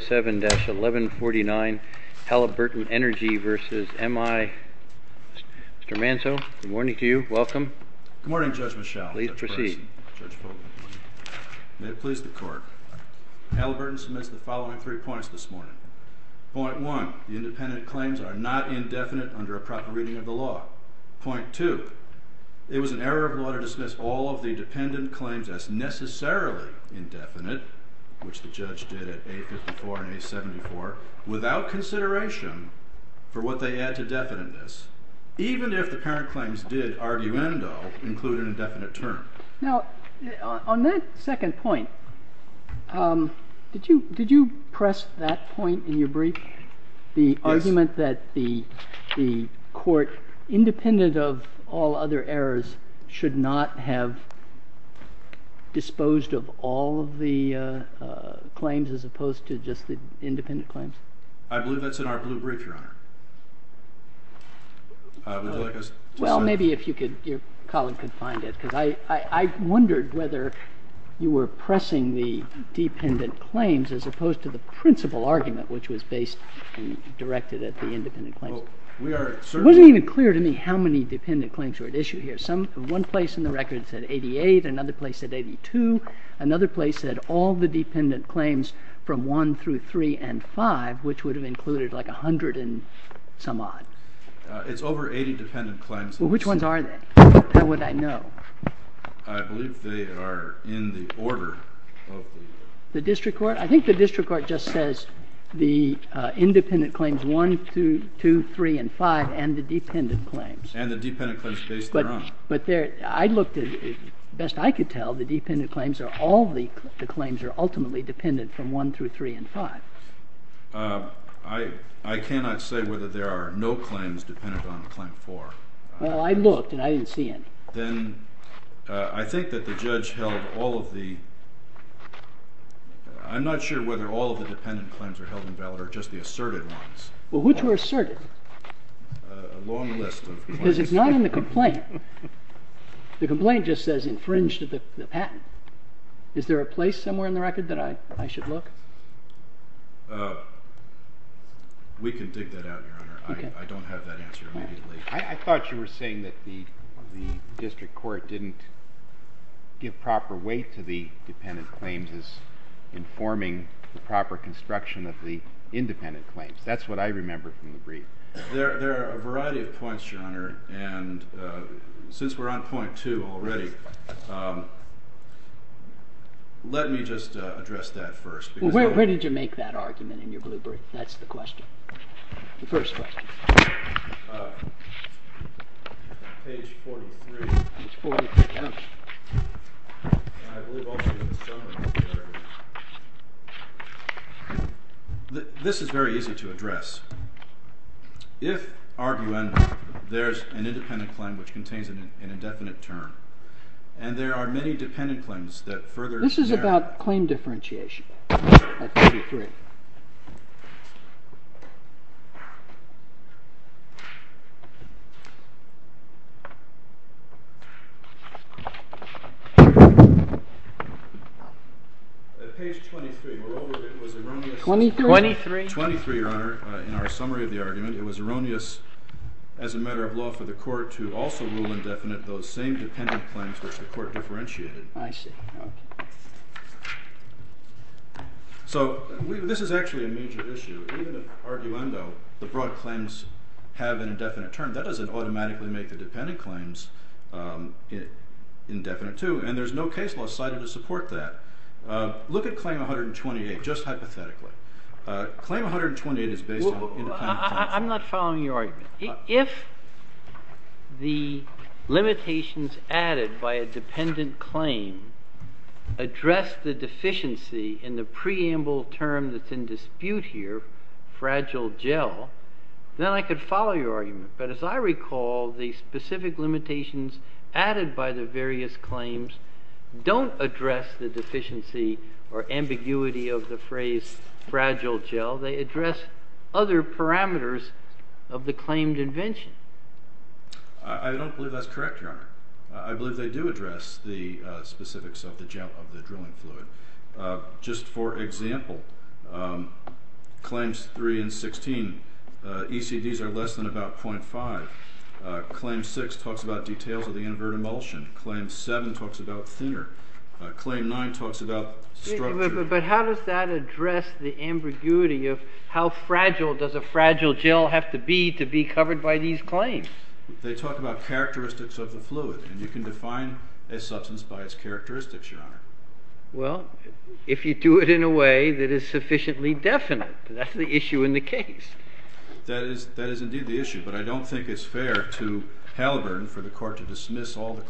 7-1149 Halliburton Energy v. M-I LLC. Mr. Manso, good morning to you. Welcome. Good morning, Judge Rochelle. Please proceed. May it please the court. Halliburton submits the following three points this morning. Point one, the independent claims are not indefinite under a proper reading of the law. Point two, it was an error of order to dismiss all of the dependent claims as necessarily indefinite, which the judge did at A-54 and A-74, without consideration for what they add to definiteness, even if the current claims did, argument though, include an indefinite term. Now, on that second point, did you press that point in your brief? The argument that the court, independent of all other errors, should not have disposed of all of the claims as opposed to just the independent claims? I believe that's in our brief, Your Honor. Well, maybe if you could, your colleague, could find it, because I wondered whether you were pressing the dependent claims as opposed to the principal argument, which was based and directed at the independent claims. It wasn't even clear to me how many dependent claims were at issue here. I think it was some one place in the record it said 88, another place it said 82, another place it said all the dependent claims from 1 through 3 and 5, which would have included like 100 and some odd. It's over 80 dependent claims. Well, which ones are they? How would I know? I believe they are in the order of the district court. I think the district court just says the independent claims 1, 2, 3, and 5 and the I looked at, best I could tell, the dependent claims are all the claims are ultimately dependent from 1 through 3 and 5. I cannot say whether there are no claims dependent on claim 4. Well, I looked and I didn't see any. Then I think that the judge held all of the, I'm not sure whether all of the dependent claims are held invalid or just the asserted ones. Well, which were asserted? A long list. Because it's not in the complaint. The complaint just says infringed the patent. Is there a place somewhere in the record that I should look? We can dig that out, Your Honor. I don't have that answer. I thought you were saying that the district court didn't give proper weight to the dependent claims as informing the proper construction of the independent claims. That's what I remember from the brief. There are a variety of points, Your Honor, and since we're on point two already, let me just address that first. Where did you make that argument in your blue book? That's the question. The first question. Page 43. This is very easy to address. If, argue endlessly, there is an independent claim which contains an indefinite term, and there are many dependent claims that are held. Page 23. Moreover, it was erroneous. 23? 23, Your Honor, in our summary of the argument, it was erroneous as a matter of law for the court to also rule indefinite those same dependent claims, but the court differentiated. I see. So this is actually a major issue. In the arguendo, the broad claims have an indefinite term. That doesn't automatically make the dependent claims indefinite, too, and there's no case law cited to support that. Look at Claim 128, just hypothetically. I'm not following your argument. If the limitations added by a dependent claim address the deficiency in the preamble term that's in dispute here, fragile gel, then I could follow your argument, but as I recall, the specific limitations added by the various claims don't address the deficiency or ambiguity of the phrase fragile gel. They address other parameters of the claimed invention. I don't believe that's correct, Your Honor. I believe they do address the specifics of the gel of the drilling fluid. Just for example, Claims 3 and 16, ECDs are less than about 0.5. Claim 6 talks about details of the invertebrate emulsion. Claim 7 talks about thinner. Claim 9 talks about structure. But how does that address the ambiguity of how fragile does a fragile gel have to be to be covered by these claims? They talk about characteristics of the fluid, and you can define a substance by its characteristics, Your Honor. Well, if you do it in a way that is sufficiently definite, that's the issue in the case. That is indeed the issue, but I don't think it's fair to Halliburton for the Court to dismiss all an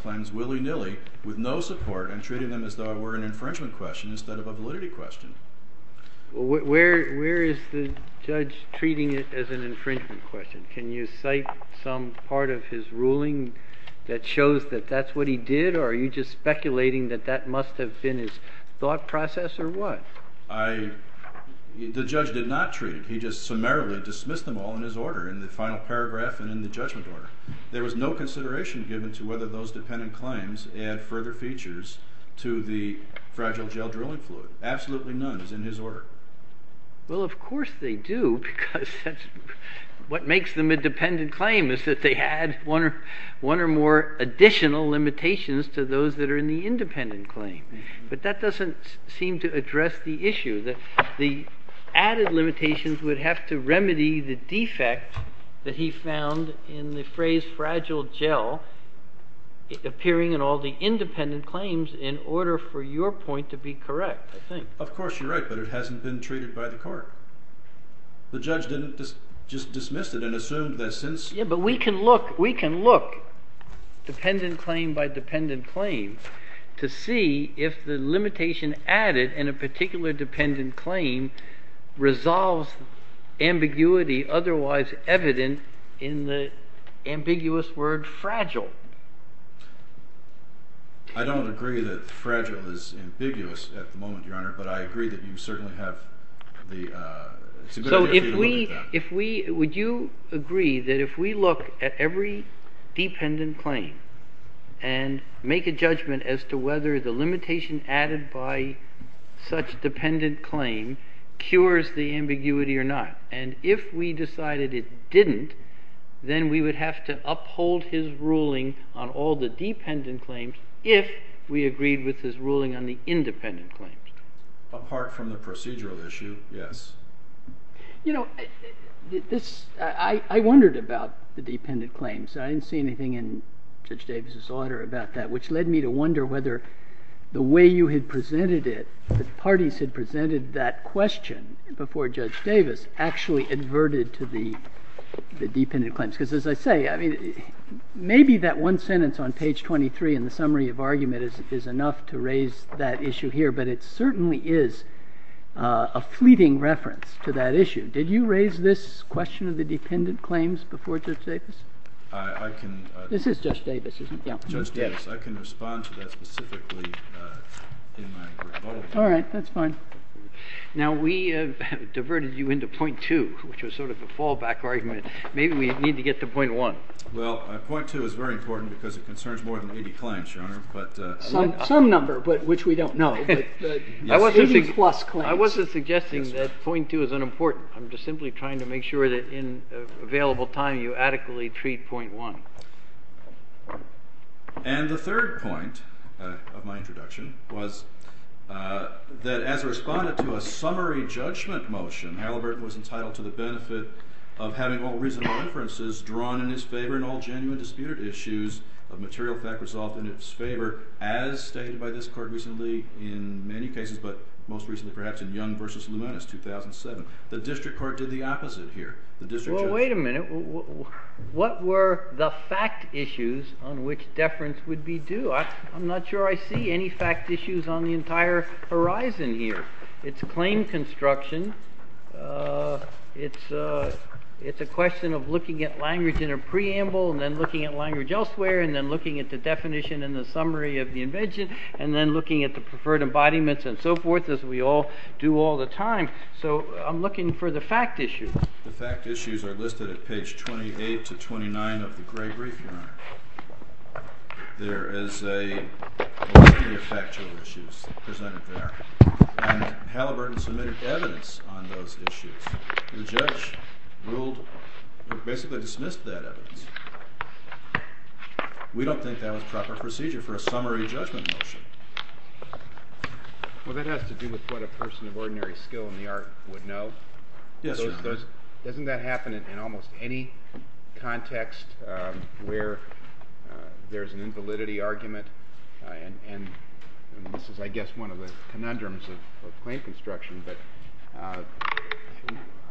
infringement question instead of a validity question. Where is the judge treating it as an infringement question? Can you cite some part of his ruling that shows that that's what he did, or are you just speculating that that must have been his thought process, or what? The judge did not treat it. He just summarily dismissed them all in his order in the final paragraph and in the judgment order. There was no consideration given to whether those fragile gel drilling fluids, absolutely none, is in his order. Well, of course they do, because that's what makes them a dependent claim, is that they add one or more additional limitations to those that are in the independent claim. But that doesn't seem to address the issue that the added limitations would have to remedy the defect that he found in the phrase fragile gel appearing in all the independent claims in order for your point to be correct, I think. Of course, you're right, but it hasn't been treated by the Court. The judge didn't just dismiss it and assume that since... Yeah, but we can look dependent claim by dependent claim to see if the limitation added in a particular dependent claim resolves ambiguity otherwise evident in the ambiguous word fragile. I don't agree that fragile is ambiguous at the moment, Your Honor, but I agree that you certainly have the... So if we, would you agree that if we look at every dependent claim and make a judgment as to whether the limitation added by such a claim is ambiguous, if we decided it didn't, then we would have to uphold his ruling on all the dependent claims if we agreed with his ruling on the independent claims. Apart from the procedural issue, yes. You know, I wondered about the dependent claims. I didn't see anything in Judge Davis's order about that, which led me to wonder whether the way you had presented it, the parties had presented that question before Judge Davis actually adverted to the dependent claims. Because as I say, I mean, maybe that one sentence on page 23 in the summary of argument is enough to raise that issue here, but it certainly is a fleeting reference to that issue. Did you raise this question of the dependent claims before Judge Davis? I can... This is Judge Davis, isn't it? Yeah. Judge Davis. I can respond to that specifically in my report. All right, that's fine. Now, we have diverted you into point two, which was sort of a fallback argument. Maybe we need to get to point one. Well, point two is very important because it concerns more than 80 claims, Your Honor, but... Some number, but which we don't know. I wasn't suggesting that point two is unimportant. I'm just simply trying to make sure that in available time you adequately treat point one. And the third point of my introduction was that as a respondent to a summary judgment motion, Halliburton was entitled to the benefit of having all reasonable inferences drawn in his favor and all genuine disputed issues of material fact resolved in its favor as stated by this court recently in many cases, but most recently perhaps in Young v. Luminous, 2007. The district court did the opposite here. Well, wait a minute. What were the fact issues on which deference would be due? I'm not sure I see any fact issues on the entire horizon here. It's claim construction. It's a question of looking at language in a preamble and then looking at language elsewhere and then looking at the definition and the summary of the invention and then looking at the preferred embodiments and so forth, as we all do all the time. So I'm looking for the fact issues. The fact issues are listed at page 28 to 29 of the Gregory Charter. There is a multitude of factual issues presented there, and Halliburton submitted evidence on those issues. The judge ruled, or basically dismissed that evidence. We don't think that was proper procedure for a summary judgment motion. Well, that has to do with what a person of ordinary skill in the art would know. Doesn't that happen in almost any context where there's an invalidity argument? And this is, I guess, one of the conundrums of claim construction, but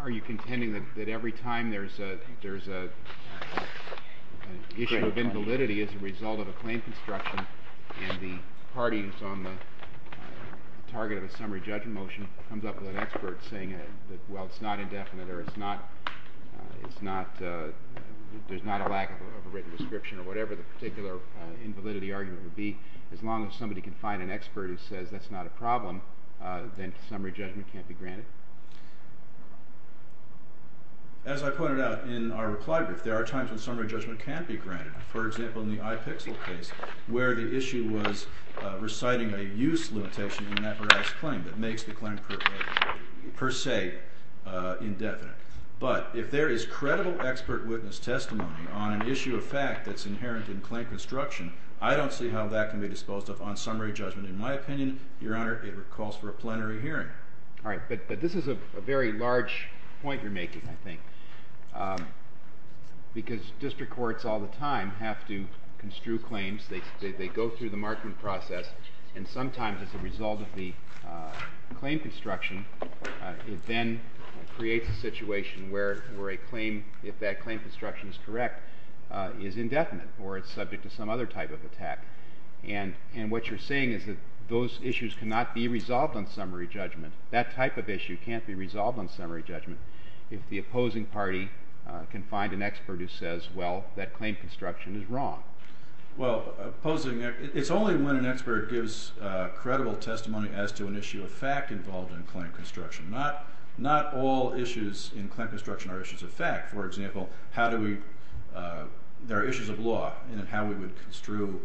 are you contending that every time there's an issue of invalidity as a result of a claim construction and the parties on the target of a summary judgment motion comes up with an expert saying, well, it's not indefinite or there's not a lack of a written description or whatever the particular invalidity argument would be, as long as somebody can find an expert who says that's not a problem, then summary judgment can't be granted? As I pointed out in our reply group, there are times when summary judgment can be granted. For example, in the I-PIXL case, where the issue was reciting a use limitation in an apparatus claim that makes the claim per se indefinite. But if there is credible expert witness testimony on an issue of fact that's inherent in claim construction, I don't see how that can be disposed of on summary judgment. In my opinion, Your Honor, it calls for a plenary hearing. All right, but this is a very large point you're making, I think, because district courts all the time have to construe claims. They go through the marking process, and sometimes as a result of the claim construction, it then creates a situation where a claim, if that claim construction is correct, is indefinite or it's subject to some other type of attack. And what you're saying is that those issues cannot be resolved on summary judgment. That type of issue can't be resolved on summary judgment if the opposing party can find an expert who says, well, that claim construction is wrong. Well, it's only when an expert gives credible testimony as to an issue of fact involved in claim construction. Not all issues in claim construction are issues of fact. For example, there are issues of law, and how would we construe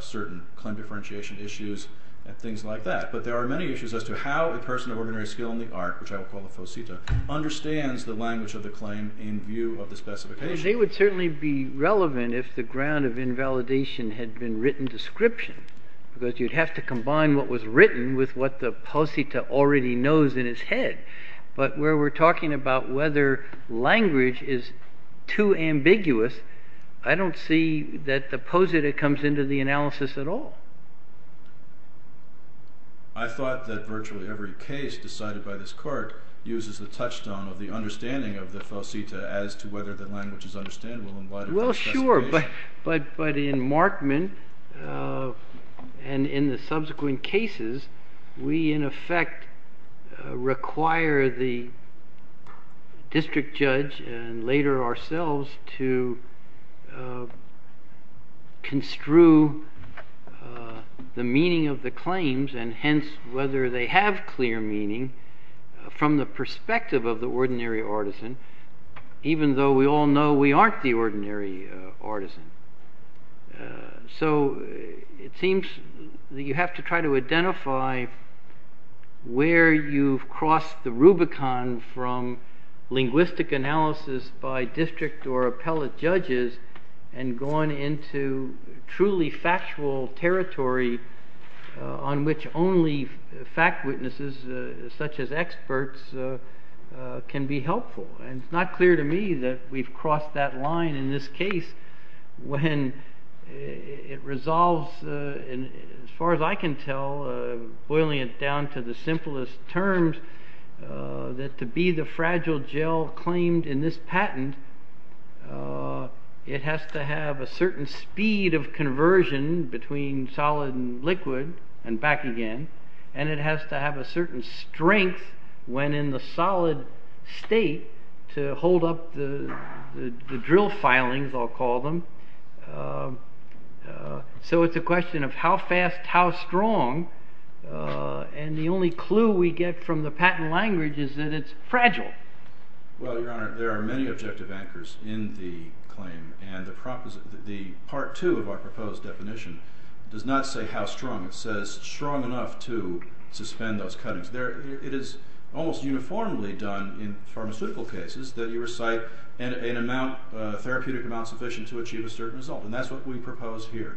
certain claim differentiation issues and things like that. But there are many issues as to how a person of ordinary skill in the art, which I would call the posita, understands the language of the claim in view of the specification. They would certainly be relevant if the ground of invalidation had been written description, because you'd have to combine what was written with what the posita already knows in its head. But where we're talking about whether language is too ambiguous, I don't see that the posita comes into the analysis at all. I thought that virtually every case decided by this court uses the touchstone of the understanding of the posita as to whether the language is understandable and why it is. Well, sure, but in Markman and in the subsequent cases, we in effect require the district judge and later ourselves to construe the meaning of the claims, and hence whether they have clear meaning from the perspective of the ordinary artisan, even though we all know we aren't the ordinary artisan. So it seems that you have to try to identify where you've crossed the Rubicon from linguistic analysis by district or appellate judges and gone into truly factual territory on which only fact witnesses, such as experts, can be helpful. And it's not clear to me that we've crossed that line in this case when it resolves, as far as I can tell, boiling it down to the simplest terms, that to be the fragile gel claimed in this patent, it has to have a certain speed of conversion between solid and liquid, and back again, and it has to have a certain strength when in the solid state to hold up the drill filings, I'll call them, so it's a question of how fast, how strong, and the only clue we get from the patent language is that it's fragile. Well, Your Honor, there are many objective anchors in the claim, and the part two of our proposed definition does not say how strong, it says strong enough to suspend those cuttings. It is almost uniformly done in pharmaceutical cases that you recite a therapeutic amount sufficient to achieve a certain result, and that's what we propose here.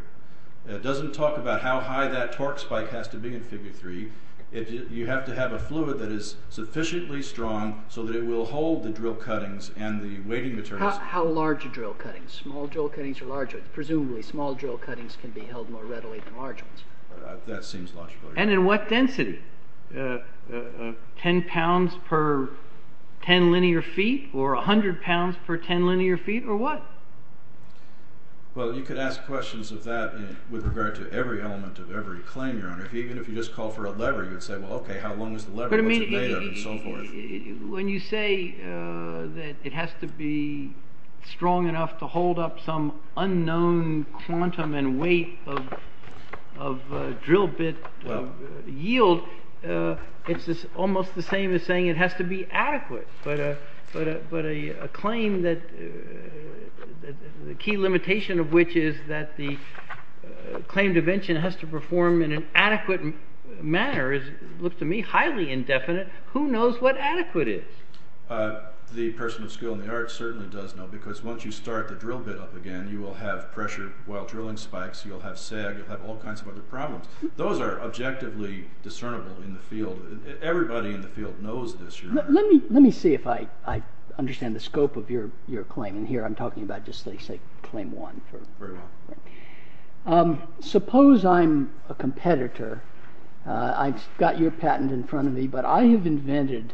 It doesn't talk about how high that torque spike has to be in 53, you have to have a fluid that is sufficiently strong so that it will hold the drill cuttings and the weighting materials. How large are drill cuttings? Small drill cuttings are larger. Presumably, small drill cuttings can be held more readily than large ones. That seems logical. And in what density? 10 pounds per 10 linear feet, or 100 pounds per 10 linear feet, or what? Well, you could ask questions of that with regard to every element of every claim, Your Honor. Even if you just call for a lever, you'd say, well, okay, how long is the lever going to be made of it, and so forth. When you say that it has to be strong enough to hold up some unknown quantum and weight of drill bit yield, it's almost the same as saying it has to be adequate. But a claim that the key limitation of which is that the claim to mention has to perform in an adequate manner is, look to me, highly indefinite. Who knows what adequate is? The person with skill in the arts certainly does know, because once you start the drill bit up again, you will have pressure while drilling spikes, you'll have sag, you'll have all kinds of other problems. Those are objectively discernible in the field. Everybody in the field knows this, Your Honor. Let me see if I understand the scope of your claim. And here I'm talking about just, let's say, claim one. Suppose I'm a competitor. I've got your patent in front of me, but I have invented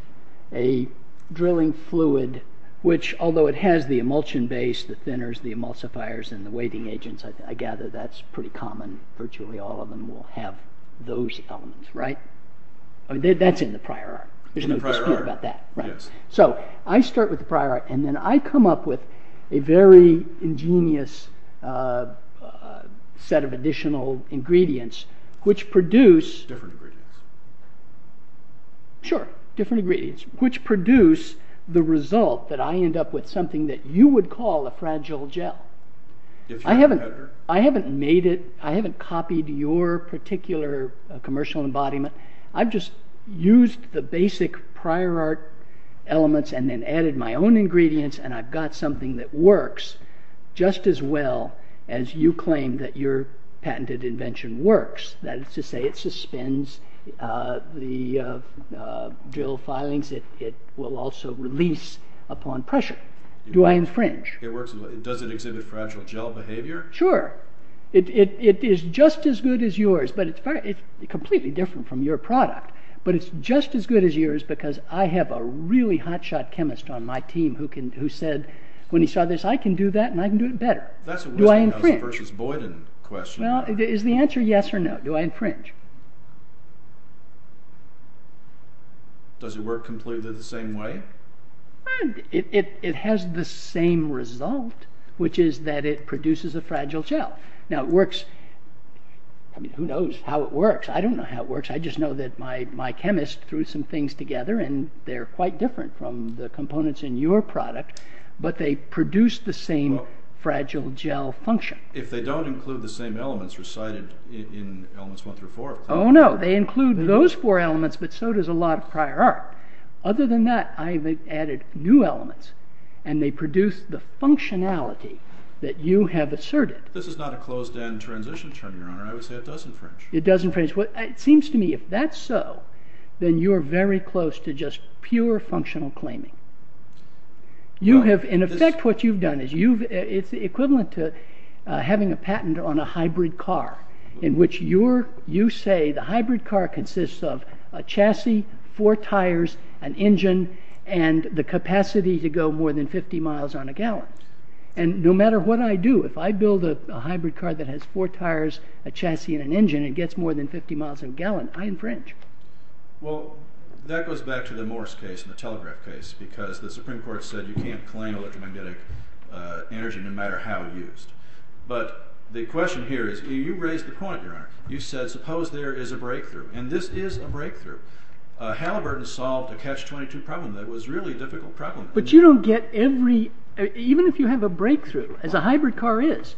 a drilling fluid which, although it has the emulsion base, the thinners, the emulsifiers, and the weighting agents, I gather that's pretty common. Virtually all of them will have those elements, right? That's in the prior art. There's no dispute about that. So I start with the prior art, and then I come up with a very ingenious set of additional ingredients which produce... Different ingredients. Sure, different ingredients, which produce the result that I end up with something that you would call a fragile gel. I haven't made it. I haven't copied your particular commercial embodiment. I've just used the basic prior art elements and then added my own ingredients, and I've got something that works just as well as you claim that your patented invention works. That is to say, it suspends the drill filings. It will also release upon pressure. Do I infringe? Does it exhibit fragile gel behavior? Sure. It is just as good as yours, but it's completely different from your product. But it's just as good as yours because I have a really hot shot chemist on my team who said, when he saw this, I can do that, and I can do it better. That's a Wilson versus Boyden question. Well, is the answer yes or no? Do I infringe? Does it work completely the same way? It has the same result, which is that it produces a fragile gel. Now, it works. I mean, who knows how it works? I don't know how it works. I just know that my chemist threw some things together, and they're quite different from the components in your product, but they produce the same fragile gel function. If they don't include the same elements residing in elements one through four. Oh, no. They include those four elements, but so does a lot of prior art. Other than that, I have added new elements, and they produce the functionality that you have asserted. This is not a closed-end transition, Your Honor. I would say it doesn't infringe. It doesn't infringe. It seems to me, if that's so, then you're very close to just pure functional claiming. In effect, what you've done is equivalent to having a patent on a hybrid car, in which you say the hybrid car consists of a chassis, four tires, an engine, and the capacity to go more than 50 miles on a gallon. And no matter what I do, if I build a hybrid car that has four tires, a chassis, and an engine, and gets more than 50 miles on a gallon, I infringe. Well, that goes back to the Morse case and the Telegraph case, because the Supreme Court said you can't claim electromagnetic energy no matter how it's used. But the question here is, you raised the point, Your Honor. You said, suppose there is a breakthrough, and this is a breakthrough. Halliburton solved a catch-22 problem that was a really difficult problem. But even if you have a breakthrough, as a hybrid car is,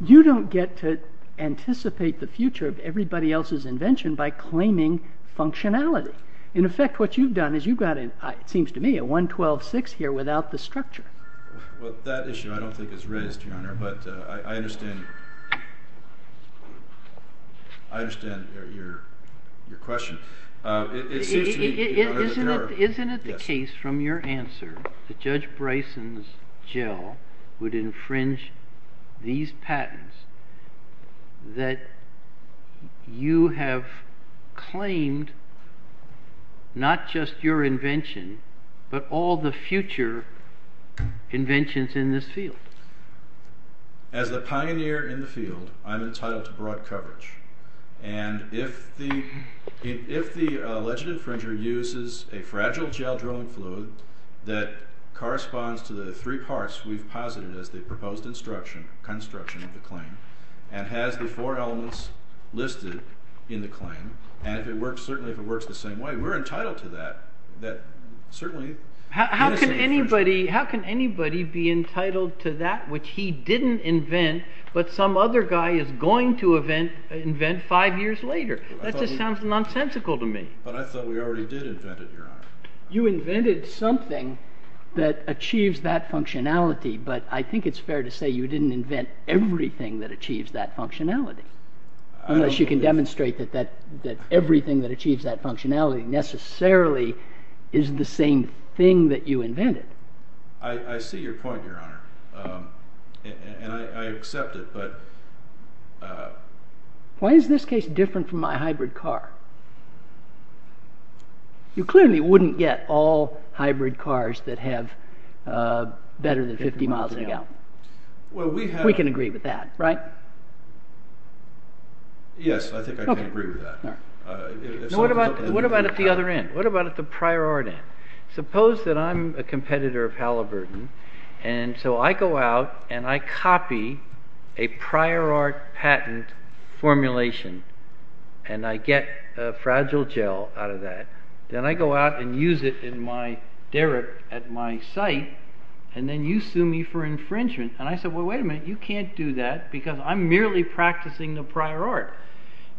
you don't get to anticipate the future of everybody else's invention by claiming functionality. In effect, what you've done is you've got, it seems to me, a 112.6 here without the structure. Well, that issue I don't think is raised, Your Honor, but I understand your question. Isn't it the case from your answer that Judge Bryson's gel would infringe these patents that you have claimed not just your invention, but all the future inventions in this field? As a pioneer in the field, I'm entitled to broad coverage. And if the alleged infringer uses a fragile gel-drilling fluid that corresponds to the three parts we've posited as the proposed construction of the claim, and has the four elements listed in the claim, and if it works the same way, we're entitled to that. How can anybody be entitled to that which he didn't invent, but some other guy is going to invent five years later? That just sounds nonsensical to me. I thought we already did invent it, Your Honor. You invented something that achieves that functionality, but I think it's fair to say you didn't invent everything that achieves that functionality. Unless you can demonstrate that everything that achieves that functionality necessarily is the same thing that you invented. I see your point, Your Honor, and I accept it, but... Why is this case different from my hybrid car? You clearly wouldn't get all hybrid cars that have better than 50 miles an hour. We can agree with that, right? Yes, I think I can agree with that. What about at the other end? What about at the prior art end? Suppose that I'm a competitor of Halliburton, and so I go out and I copy a prior art patent formulation, and I get a fragile gel out of that. Then I go out and use it in my derrick at my site, and then you sue me for infringement. And I say, well, wait a minute, you can't do that because I'm merely practicing the prior art.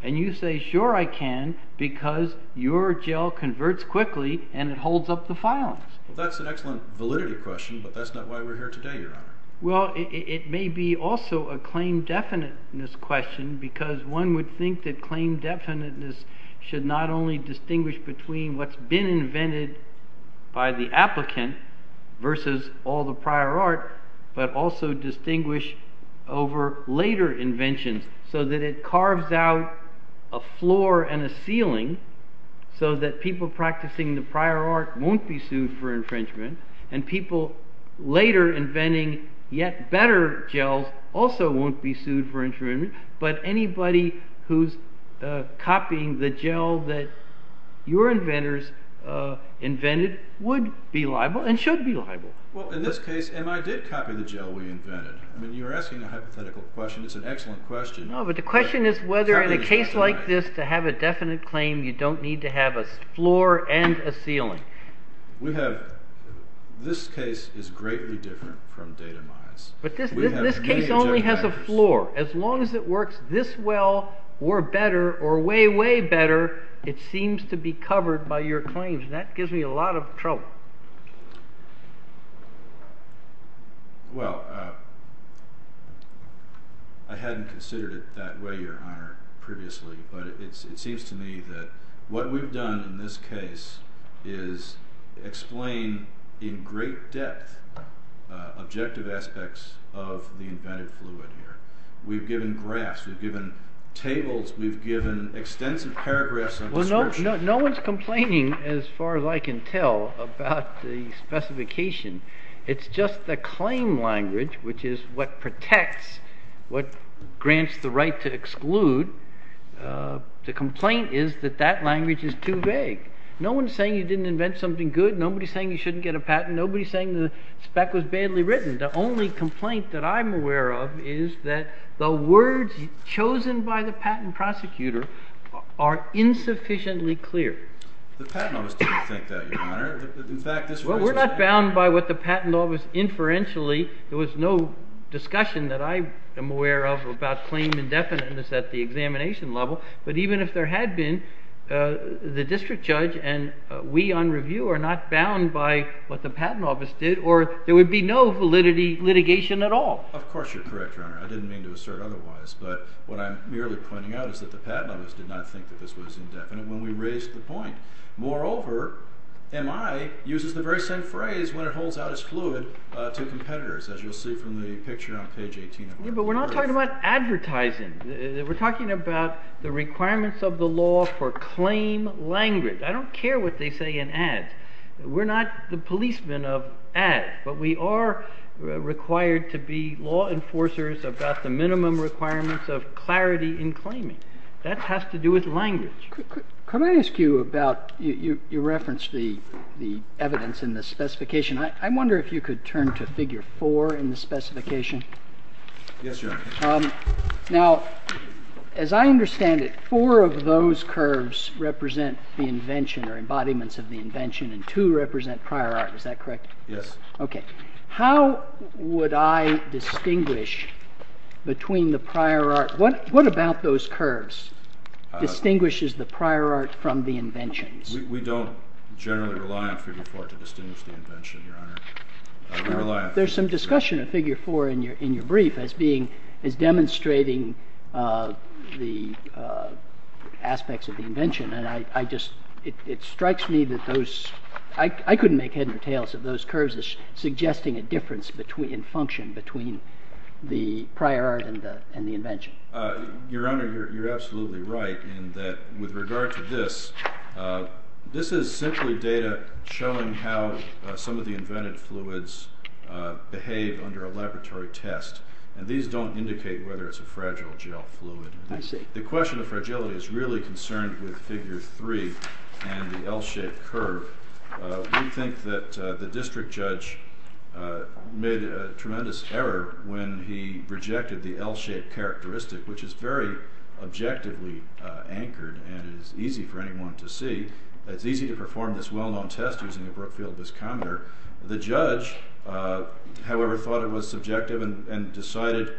And you say, sure I can, because your gel converts quickly and it holds up the files. That's an excellent validity question, but that's not why we're here today, Your Honor. Well, it may be also a claim-definiteness question, because one would think that claim-definiteness should not only distinguish between what's been invented by the applicant versus all the prior art, but also distinguish over later invention, so that it carves out a floor and a ceiling, so that people practicing the prior art won't be sued for infringement, and people later inventing yet better gels also won't be sued for infringement. But anybody who's copying the gel that your inventors invented would be liable and should be liable. Well, in this case, and I did copy the gel we invented. I mean, you're asking a hypothetical question. It's an excellent question. No, but the question is whether in a case like this, to have a definite claim, you don't need to have a floor and a ceiling. We have, this case is greatly different from data miles. But this case only has a floor. As long as it works this well or better, or way, way better, it seems to be covered by your claims, and that gives me a lot of trouble. Well, I hadn't considered it that way, Your Honor, previously. But it seems to me that what we've done in this case is explain in great depth objective aspects of the invented fluid here. We've given graphs. We've given tables. We've given extensive paragraphs of assertions. Well, no one's complaining, as far as I can tell, about the specification. It's just the claim language, which is what protects, what grants the right to exclude. The complaint is that that language is too vague. No one's saying you didn't invent something good. Nobody's saying you shouldn't get a patent. Nobody's saying the spec was badly written. The only complaint that I'm aware of is that the words chosen by the patent prosecutor are insufficiently clear. The patent office didn't think that, Your Honor. Well, we're not bound by what the patent office inferentially. There was no discussion that I am aware of about claim indefiniteness at the examination level. But even if there had been, the district judge and we on review are not bound by what the patent office did, or there would be no validity litigation at all. Of course you're correct, Your Honor. I didn't mean to assert otherwise. But what I'm merely pointing out is that the patent office did not think that this was indefinite when we raised the point. Moreover, MI uses the very same phrase when it holds out its fluid to competitors, as you'll see from the picture on page 18. But we're not talking about advertising. We're talking about the requirements of the law for claim language. I don't care what they say in ads. We're not the policemen of ads. But we are required to be law enforcers about the minimum requirements of clarity in claiming. That has to do with language. Could I ask you about, you referenced the evidence in the specification. I wonder if you could turn to figure four in the specification. Yes, Your Honor. Now, as I understand it, four of those curves represent the invention or embodiments of the invention and two represent prior art. Is that correct? Yes. Okay. How would I distinguish between the prior art? What about those curves? It distinguishes the prior art from the invention. We don't generally rely on figure four to distinguish the invention, Your Honor. We rely on figure four. There's some discussion of figure four in your brief as being, as demonstrating the aspects of the invention. And I just, it strikes me that those, I couldn't make head or tails of those curves as suggesting a difference in function between the prior art and the invention. Your Honor, you're absolutely right in that with regard to this, this is simply data showing how some of the invented fluids behave under a laboratory test. And these don't indicate whether it's a fragile gel fluid. I see. The question of fragility is really concerned with figure three and the L-shaped curve. We think that the district judge made a tremendous error when he rejected the L-shaped characteristic, which is very objectively anchored and is easy for anyone to see. It's easy to perform this well-known test using a Brookfield viscometer. The judge, however, thought it was subjective and decided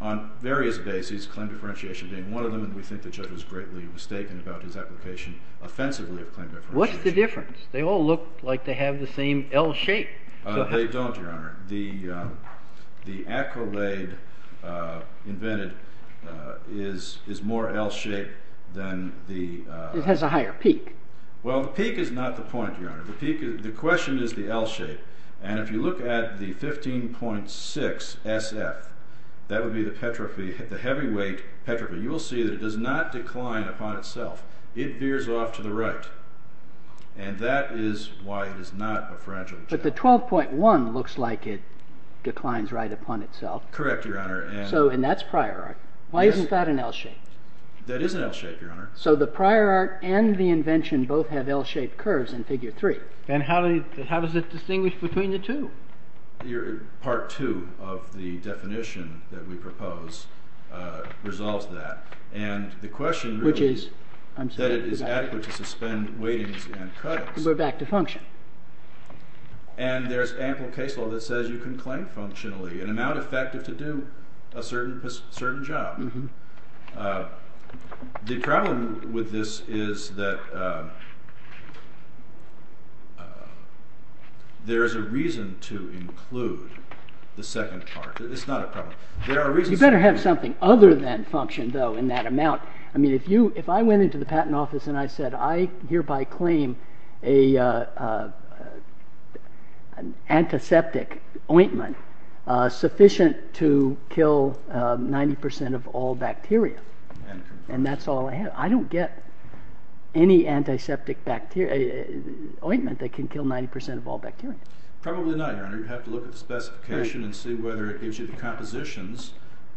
on various bases, claim differentiation being one of them, and we think the judge was greatly mistaken about his application offensively of claim differentiation. What's the difference? They all look like they have the same L-shape. They don't, Your Honor. The Acrolade invented is more L-shaped than the… It has a higher peak. Well, the peak is not the point, Your Honor. The peak is, the question is the L-shape. And if you look at the 15.6 SF, that would be the heavyweight petrophy. You will see that it does not decline upon itself. It veers off to the right, and that is why it is not a fragile gel. But the 12.1 looks like it declines right upon itself. Correct, Your Honor. And that's prior art. Why isn't that an L-shape? That is an L-shape, Your Honor. So the prior art and the invention both have L-shaped curves in figure three. And how does it distinguish between the two? Part two of the definition that we propose resolves that. And the question is that it is adequate to suspend weightings and cuttings. And go back to function. And there's ample case law that says you can claim functionally an amount effective to do a certain job. The problem with this is that there is a reason to include the second part. It's not a problem. You better have something other than function, though, in that amount. If I went into the patent office and I said, I hereby claim an antiseptic ointment sufficient to kill 90% of all bacteria, and that's all I have, I don't get any antiseptic ointment that can kill 90% of all bacteria. Probably not, Your Honor. You'd have to look at the specification and see whether it gives you the compositions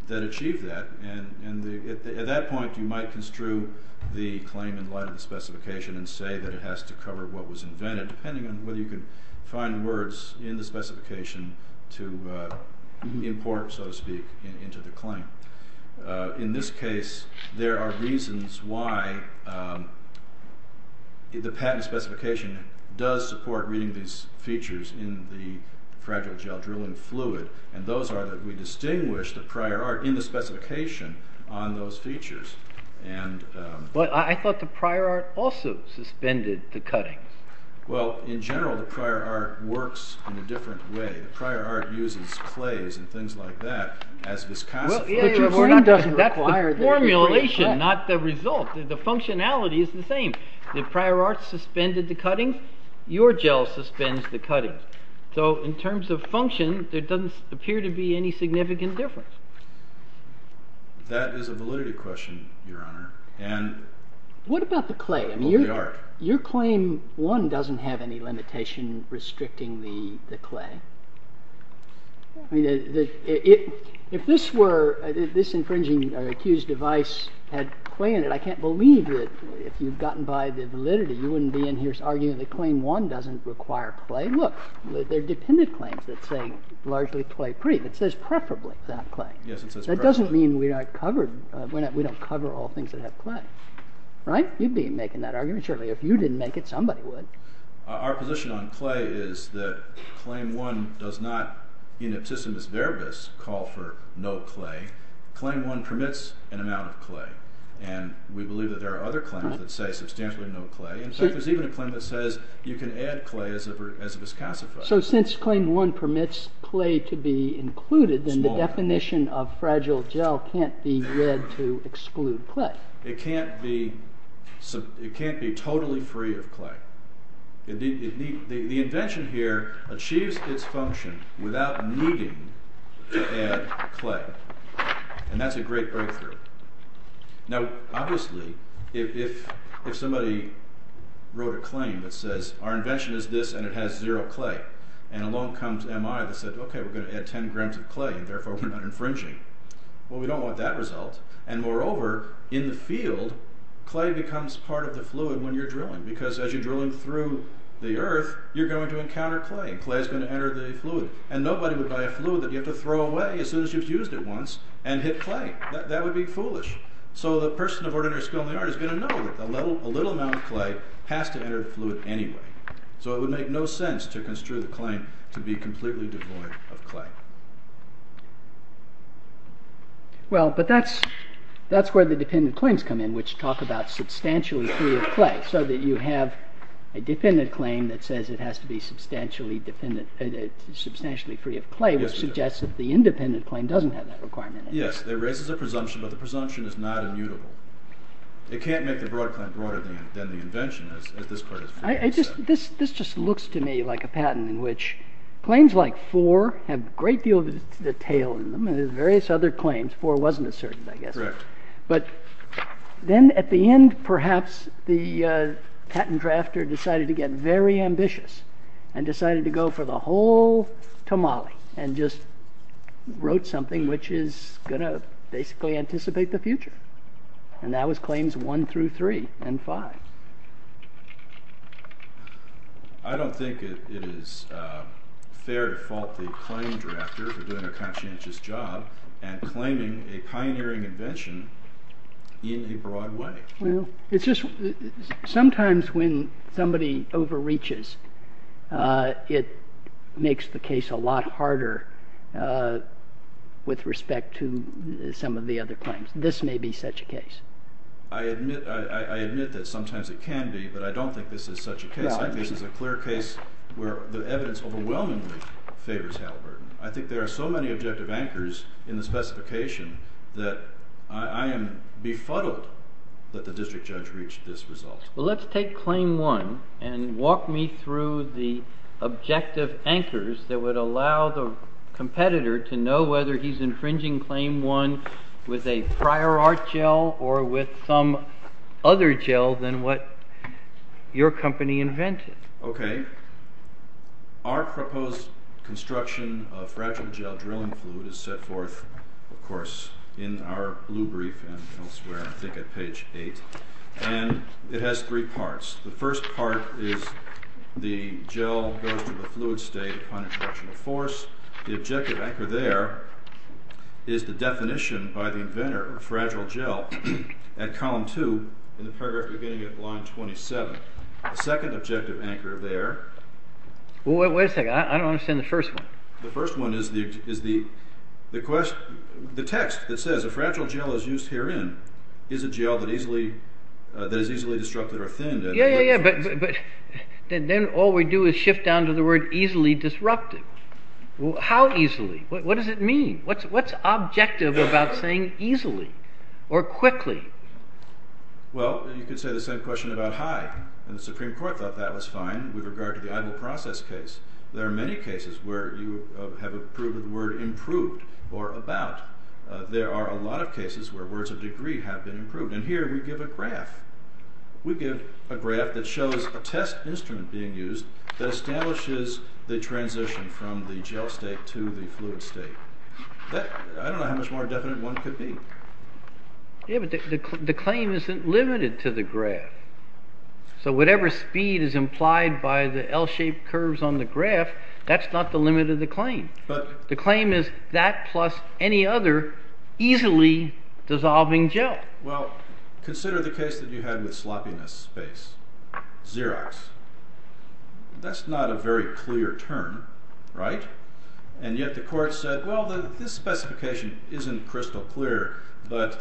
that achieve that. At that point, you might construe the claim in light of the specification and say that it has to cover what was invented, depending on whether you can find words in the specification to import, so to speak, into the claim. In this case, there are reasons why the patent specification does support reading these features in the fragile gel drilling fluid. Those are that we distinguish the prior art in the specification on those features. I thought the prior art also suspended the cutting. Well, in general, the prior art works in a different way. The prior art uses clays and things like that as viscosity. That's the formulation, not the result. The functionality is the same. The prior art suspended the cutting. Your gel suspends the cutting. In terms of function, there doesn't appear to be any significant difference. That is a validity question, Your Honor. What about the clay? Your claim 1 doesn't have any limitation restricting the clay. If this infringing or accused device had clay in it, I can't believe it. If you've gotten by the validity, you wouldn't be in here arguing that claim 1 doesn't require clay. Look, there are dependent claims that say largely clay-free. It says preferably to have clay. That doesn't mean we don't cover all things that have clay. Right? You'd be making that argument, certainly. If you didn't make it, somebody would. Our position on clay is that claim 1 does not, in its system as verbis, call for no clay. Claim 1 permits an amount of clay. And we believe that there are other claims that say substantially no clay. There's even a claim that says you can add clay as a viscosity. So since claim 1 permits clay to be included, then the definition of fragile gel can't be read to exclude clay. It can't be totally free of clay. The invention here achieves its function without needing to add clay. And that's a great breakthrough. Now, obviously, if somebody wrote a claim that says our invention is this and it has zero clay, and along comes MI that says, OK, we're going to add 10 grams of clay and therefore we're not infringing, well, we don't want that result. And moreover, in the field, clay becomes part of the fluid when you're drilling, because as you're drilling through the earth, you're going to encounter clay. Clay's going to enter the fluid. And nobody would buy a fluid that you have to throw away as soon as you've used it once and hit clay. That would be foolish. So the person of ordinary skill in the art is going to know that a little amount of clay has to enter the fluid anyway. So it would make no sense to construe the claim to be completely devoid of clay. Well, but that's where the defendant claims come in, which talk about substantially free of clay, so that you have a defendant claim that says it has to be substantially free of clay, which suggests that the independent claim doesn't have that requirement. Yes, it raises a presumption, but the presumption is not immutable. It can't make the broad claim broader than the invention, as this part of the case says. This just looks to me like a patent in which claims like four have a great deal of detail in them, and there's various other claims, four wasn't a certain, I guess. Correct. But then at the end, perhaps, the patent drafter decided to get very ambitious and decided to go for the whole tamale and just wrote something which is going to basically anticipate the future. And that was claims one through three and five. I don't think it is fair to fault the claim drafter for doing a conscientious job and claiming a pioneering invention in the broad way. Sometimes when somebody overreaches, it makes the case a lot harder with respect to some of the other claims. This may be such a case. I admit that sometimes it can be, but I don't think this is such a case. I think this is a clear case where the evidence overwhelmingly favors Halliburton. I think there are so many objective anchors in the specification that I am befuddled that the district judge reached this result. Well, let's take claim one and walk me through the objective anchors that would allow the competitor to know whether he's infringing claim one with a prior art gel or with some other gel than what your company invented. Okay. Our proposed construction of fragile gel drilling fluid is set forth, of course, in our blue brief and elsewhere, I think at page eight. And it has three parts. The first part is the gel goes to the fluid state upon extraction of force. The objective anchor there is the definition by the inventor of fragile gel at column two in the beginning of line 27. The second objective anchor there. Wait a second. I don't understand the first one. The first one is the text that says a fragile gel is used herein is a gel that is easily disrupted or thinned. Yeah, yeah, yeah. But then all we do is shift down to the word easily disrupted. How easily? What does it mean? What's objective about saying easily or quickly? Well, you could say the same question about high. And the Supreme Court thought that was fine with regard to the idle process case. There are many cases where you have a proven word improved or about. There are a lot of cases where words of degree have been improved. And here we give a graph. We give a graph that shows a test instrument being used that establishes the transition from the gel state to the fluid state. I don't know how much more definite one could be. Yeah, but the claim isn't limited to the graph. So whatever speed is implied by the L-shaped curves on the graph, that's not the limit of the claim. The claim is that plus any other easily dissolving gel. Well, consider the case that you had with sloppiness space, Xerox. That's not a very clear term, right? And yet the court said, well, this specification isn't crystal clear, but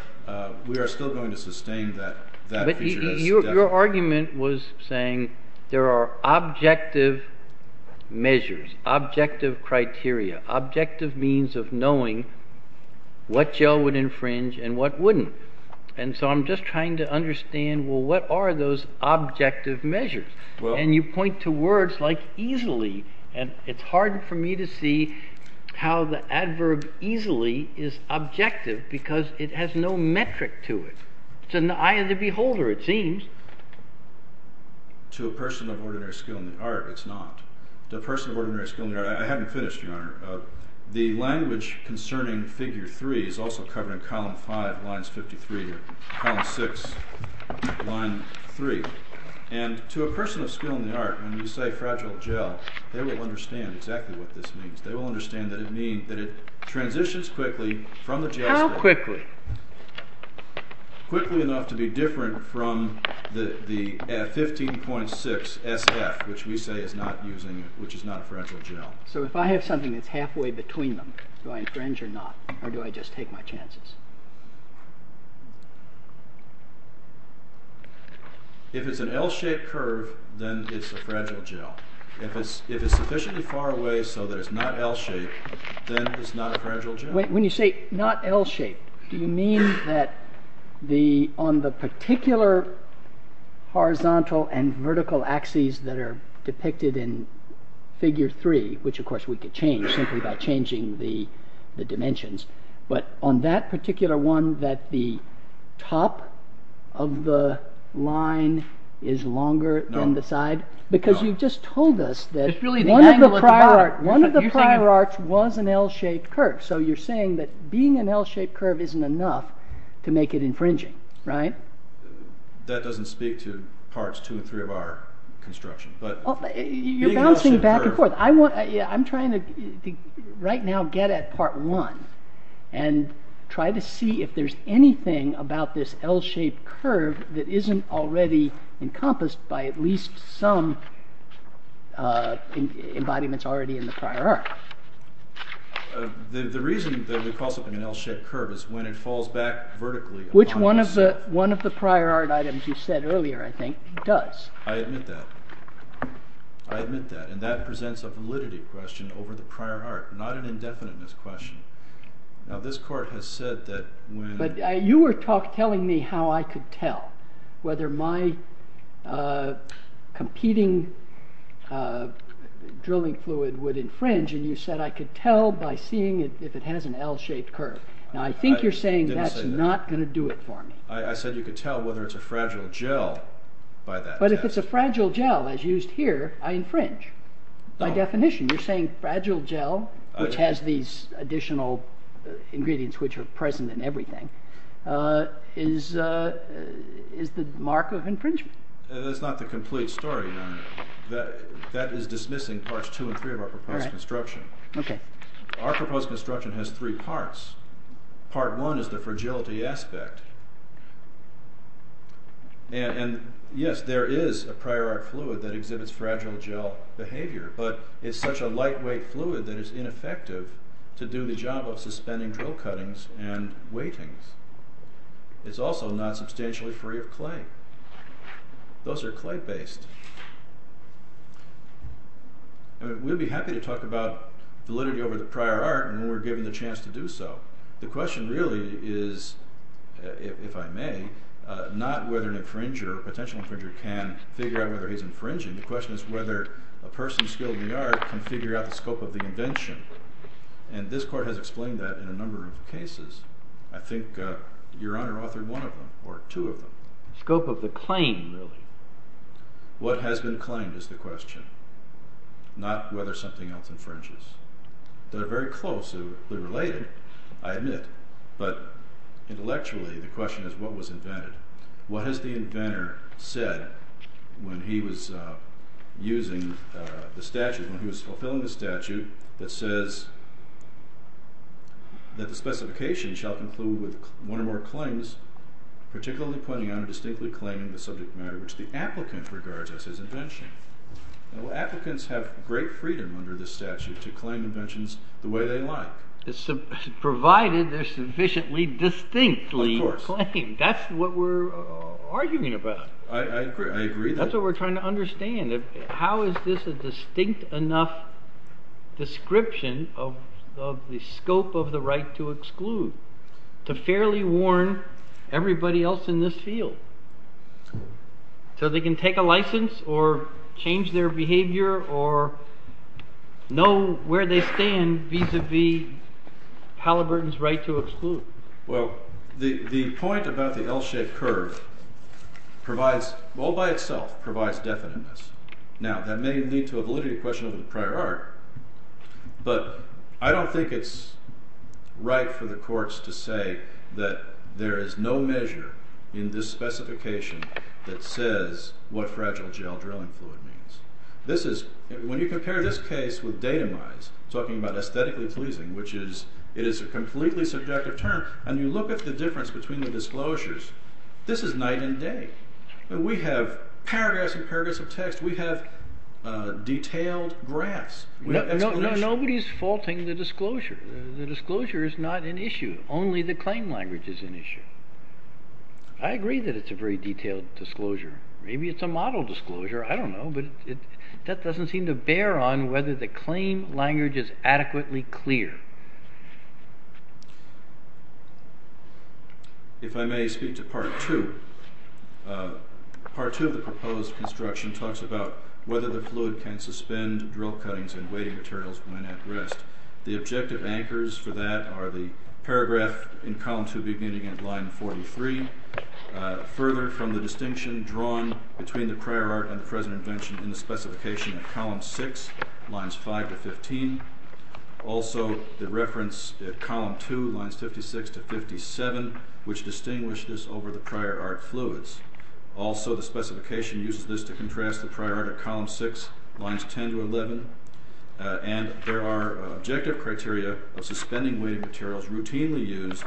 we are still going to sustain that. But your argument was saying there are objective measures, objective criteria, objective means of knowing what gel would infringe and what wouldn't. And so I'm just trying to understand, well, what are those objective measures? And you point to words like easily, and it's hard for me to see how the adverb easily is objective because it has no metric to it. It's an eye of the beholder, it seems. To a person of ordinary skill in the art, it's not. To a person of ordinary skill in the art, I haven't finished, Your Honor. The language concerning Figure 3 is also covered in Column 5, Lines 53 or Column 6, Lines 3. And to a person of skill in the art, when you say fragile gel, they will understand exactly what this means. They will understand that it means that it transitions quickly from the gel. How quickly? Quickly enough to be different from the 15.6 SF, which we say is not using, which is not a fragile gel. So if I have something that's halfway between them, do I infringe or not, or do I just take my chances? If it's an L-shaped curve, then it's a fragile gel. If it's sufficiently far away so that it's not L-shaped, then it's not a fragile gel. When you say not L-shaped, do you mean that on the particular horizontal and vertical axes that are depicted in Figure 3, which of course we could change simply by changing the dimensions, but on that particular one that the top of the line is longer than the side? Because you've just told us that one of the prior arts was an L-shaped curve. So you're saying that being an L-shaped curve isn't enough to make it infringing, right? That doesn't speak to parts 2 and 3 of our construction. You're bouncing back and forth. I'm trying to right now get at part 1 and try to see if there's anything about this L-shaped curve that isn't already encompassed by at least some embodiments already in the prior art. The reason that we call something an L-shaped curve is when it falls back vertically. Which one of the prior art items you said earlier, I think, does. I admit that. I admit that. And that presents a validity question over the prior art, not an indefiniteness question. Now this court has said that when... But you were telling me how I could tell whether my competing drilling fluid would infringe, and you said I could tell by seeing if it has an L-shaped curve. Now I think you're saying that's not going to do it for me. I said you could tell whether it's a fragile gel by that. But if it's a fragile gel, as used here, I infringe. By definition, you're saying fragile gel, which has these additional ingredients which are present in everything, is the mark of infringement. That's not the complete story. That is dismissing parts 2 and 3 of our proposed construction. Our proposed construction has three parts. Part 1 is the fragility aspect. And yes, there is a prior art fluid that exhibits fragile gel behavior, but it's such a lightweight fluid that it's ineffective to do the job of suspending drill cuttings and weighting. It's also not substantially free of clay. Those are clay-based. We'd be happy to talk about validity over the prior art and we were given the chance to do so. The question really is, if I may, not whether an infringer, a potential infringer, can figure out whether he's infringing. The question is whether a person skilled in the art can figure out the scope of the invention. And this Court has explained that in a number of cases. I think Your Honor authored one of them, or two of them. Scope of the claim, really. What has been claimed is the question, not whether something else infringes. They're very close, they're related, I admit. But intellectually, the question is what was invented. What has the inventor said when he was using the statute, when he was fulfilling the statute, that says that the specification shall conclude with one or more claims, particularly pointing out a distinctly claim in the subject matter which the applicant regards as his invention. Well, applicants have great freedom under the statute to claim inventions the way they like. Provided they're sufficiently distinctly claimed. Of course. That's what we're arguing about. I agree. That's what we're trying to understand. How is this a distinct enough description of the scope of the right to exclude, to fairly warn everybody else in this field? So they can take a license or change their behavior or know where they stand vis-a-vis Halliburton's right to exclude. Well, the point about the L-shaped curve provides, all by itself, provides definiteness. Now, that may lead to a validity question of the prior art, but I don't think it's right for the courts to say that there is no measure in this specification that says what fragile gel drilling board means. When you compare this case with data mines, talking about aesthetically pleasing, which is a completely subjective term, and you look at the difference between the disclosures, this is night and day. We have paragraphs and paragraphs of text. We have detailed graphs. Nobody's faulting the disclosure. The disclosure is not an issue. Only the claim language is an issue. I agree that it's a very detailed disclosure. Maybe it's a model disclosure. I don't know, but that doesn't seem to bear on whether the claim language is adequately clear. If I may speak to Part 2. Part 2 of the proposed construction talks about whether the fluid can suspend drill cuttings and weighting materials when at rest. The objective anchors for that are the paragraph in column 2 beginning at line 43. Further, from the distinction drawn between the prior art and the present invention in the specification of column 6, lines 5 to 15. Also, the reference at column 2, lines 56 to 57, which distinguished this over the prior art fluids. Also, the specification uses this to contrast the prior art at column 6, lines 10 to 11. And there are objective criteria of suspending weighting materials routinely used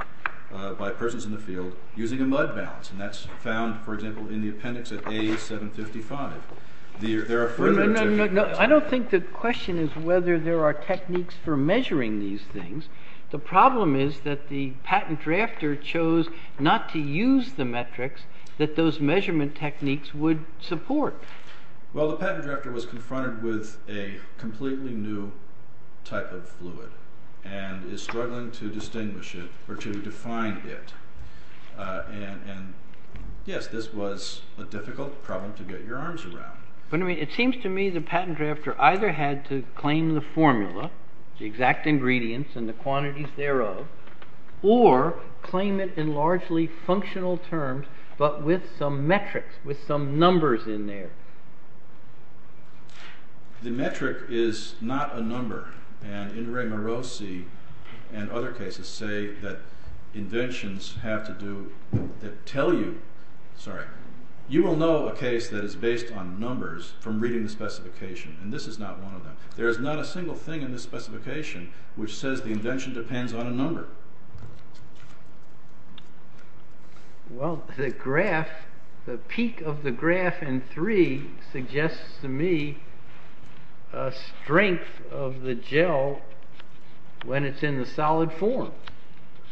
by persons in the field using a mud balance. And that's found, for example, in the appendix at A755. I don't think the question is whether there are techniques for measuring these things. The problem is that the patent drafter chose not to use the metrics that those measurement techniques would support. Well, the patent drafter was confronted with a completely new type of fluid and is struggling to distinguish it or to define it. And yes, this was a difficult problem to get your arms around. But I mean, it seems to me the patent drafter either had to claim the formula, the exact ingredients and the quantities thereof, or claim it in largely functional terms but with some metrics, with some numbers in there. The metric is not a number. And Indrae Morosi and other cases say that inventions have to do with it. You will know a case that is based on numbers from reading the specification. And this is not one of them. There is not a single thing in this specification which says the invention depends on a number. Well, the graph, the peak of the graph in three suggests to me a strength of the gel when it's in the solid form.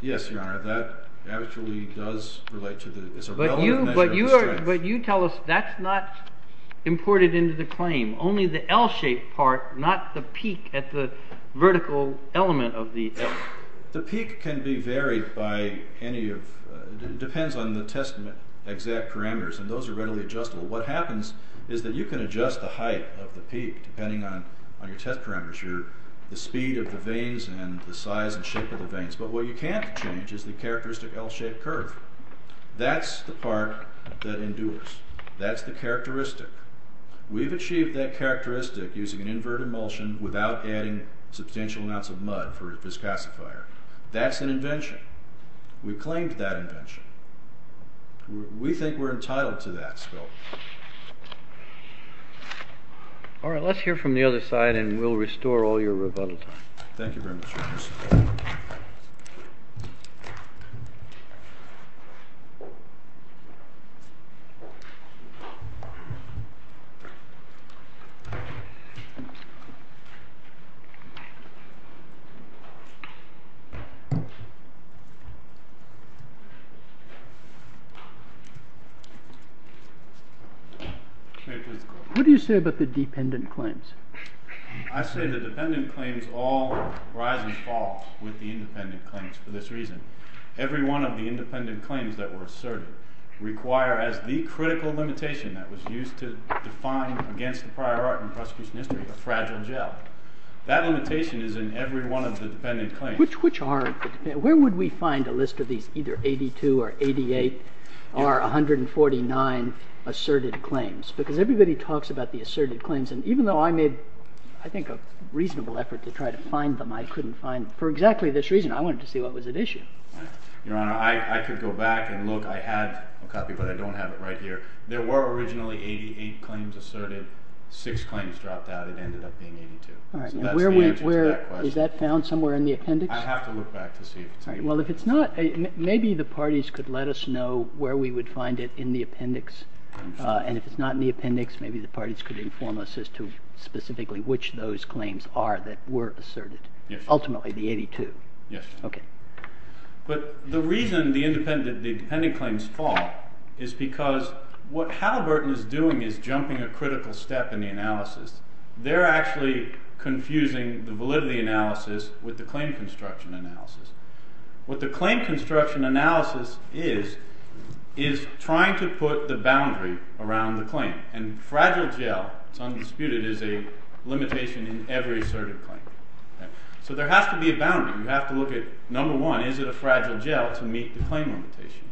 Yes, Your Honor. That actually does relate to the relevant measure. But you tell us that's not imported into the claim, only the L-shaped part, not the peak at the vertical element of the L. The peak can be varied by any of, depends on the testament exact parameters. And those are readily adjustable. What happens is that you can adjust the height of the peak depending on your test parameters, the speed of the veins and the size and shape of the veins. But what you can't change is the characteristic L-shaped curve. That's the part that endures. That's the characteristic. We've achieved that characteristic using an inverted emulsion without adding substantial amounts of mud for a viscousifier. That's an invention. We claimed that invention. We think we're entitled to that still. All right, let's hear from the other side and we'll restore all your rebuttals. Thank you very much, Your Honor. Thank you. What do you say about the dependent claims? I say the dependent claims all rise and fall with the independent claims for this reason. Every one of the independent claims that were asserted require as the critical limitation that was used to define against the prior art in prosecution history was fragile gel. That limitation is in every one of the dependent claims. Which are? Where would we find a list of the either 82 or 88 or 149 asserted claims? Because everybody talks about the asserted claims and even though I made, I think, a reasonable effort to try to find them, I couldn't find them. For exactly this reason, I wanted to see what was at issue. Your Honor, I could go back and look. I had a copy, but I don't have it right here. There were originally 88 claims asserted. Six claims dropped out. It ended up being 82. Is that found somewhere in the appendix? I'll have to look back to see. Well, if it's not, maybe the parties could let us know where we would find it in the appendix. And if it's not in the appendix, maybe the parties could inform us as to specifically which those claims are that were asserted. Ultimately, the 82. Yes. OK. But the reason the independent claims fall is because what Halliburton is doing is jumping a critical step in the analysis. They're actually confusing the validity analysis with the claim construction analysis. What the claim construction analysis is is trying to put the boundary around the claim. And fragile gel, it's undisputed, is a limitation in every asserted claim. So there has to be a boundary. You have to look at, number one, is it a fragile gel to meet the claim limitation?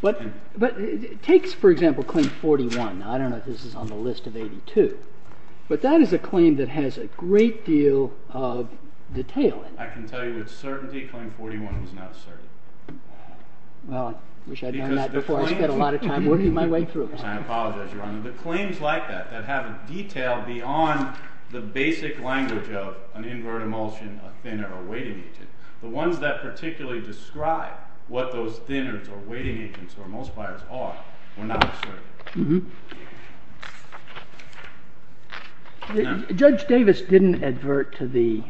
But take, for example, claim 41. I don't know if this is on the list of 82. But that is a claim that has a great deal of detail in it. I can tell you with certainty claim 41 is not asserted. Well, I wish I'd known that before. I've got a lot of time working my way through it. I apologize, Your Honor. But claims like that, that have a detail beyond the basic language of an invert emulsion, a thinner, or weighting agent, the ones that particularly describe what those thinners or weighting agents or emulsifiers are were not asserted. Judge Davis didn't advert to the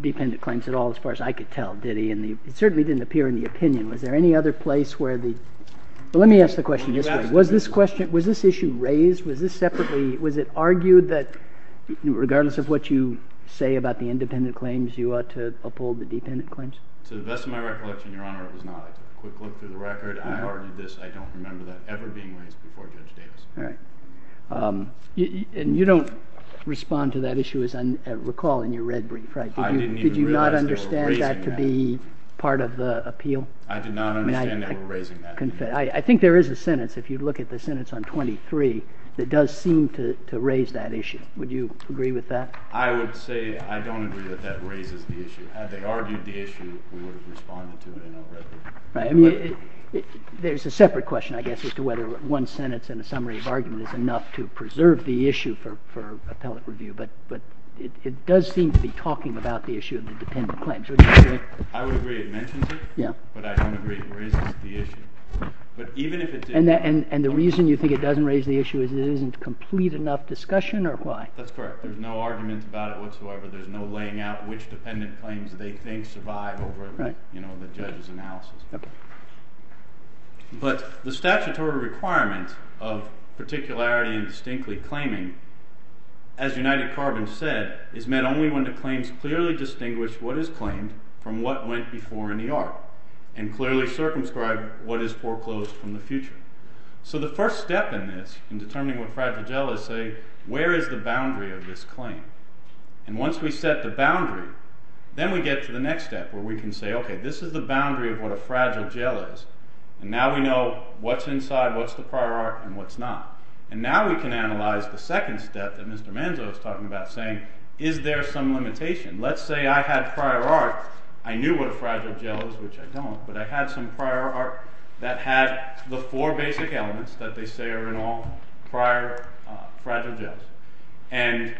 defendant claims at all, as far as I could tell, did he? And it certainly didn't appear in the opinion. Was there any other place where the, let me ask the question this way. Was this issue raised? Was this separately, was it argued that regardless of what you say about the independent claims, you ought to uphold the defendant claims? To the best of my recollection, Your Honor, it was not a quick look through the record. I argued this. I don't remember that ever being raised before Judge Davis. All right. And you don't respond to that issue, as I recall, in your red brief, right? I didn't either. Did you not understand that to be part of the appeal? I did not understand that we're raising that issue. I think there is a sentence, if you look at the sentence on 23, that does seem to raise that issue. Would you agree with that? I would say I don't agree that that raises the issue. Had they argued the issue, we would have responded to it already. Right. I mean, there's a separate question, I guess, as to whether one sentence and a summary of argument is enough to preserve the issue for appellate review. But it does seem to be talking about the issue of the dependent claims. Would you agree? I would agree it mentions it. Yeah. But I don't agree it raises the issue. And the reason you think it doesn't raise the issue is that it isn't complete enough discussion, or why? That's correct. There's no argument about it whatsoever. There's no laying out which dependent claims they think survive over the judge's analysis. But the statutory requirement of particularity and distinctly claiming, as United Carbond said, is meant only when the claims clearly distinguish what is claimed from what went before in the art, and clearly circumscribe what is foreclosed from the future. So the first step in this, in determining what fragile is, is to say, where is the boundary of this claim? And once we set the boundary, then we get to the next step where we can say, okay, this is the boundary of what a fragile gel is, and now we know what's inside, what's the prior art, and what's not. And now we can analyze the second step that Mr. Manzo is talking about, saying, is there some limitation? Let's say I had prior art, I knew what a fragile gel is, which I don't, but I had some prior art that had the four basic elements that they say are in all fragile gels. And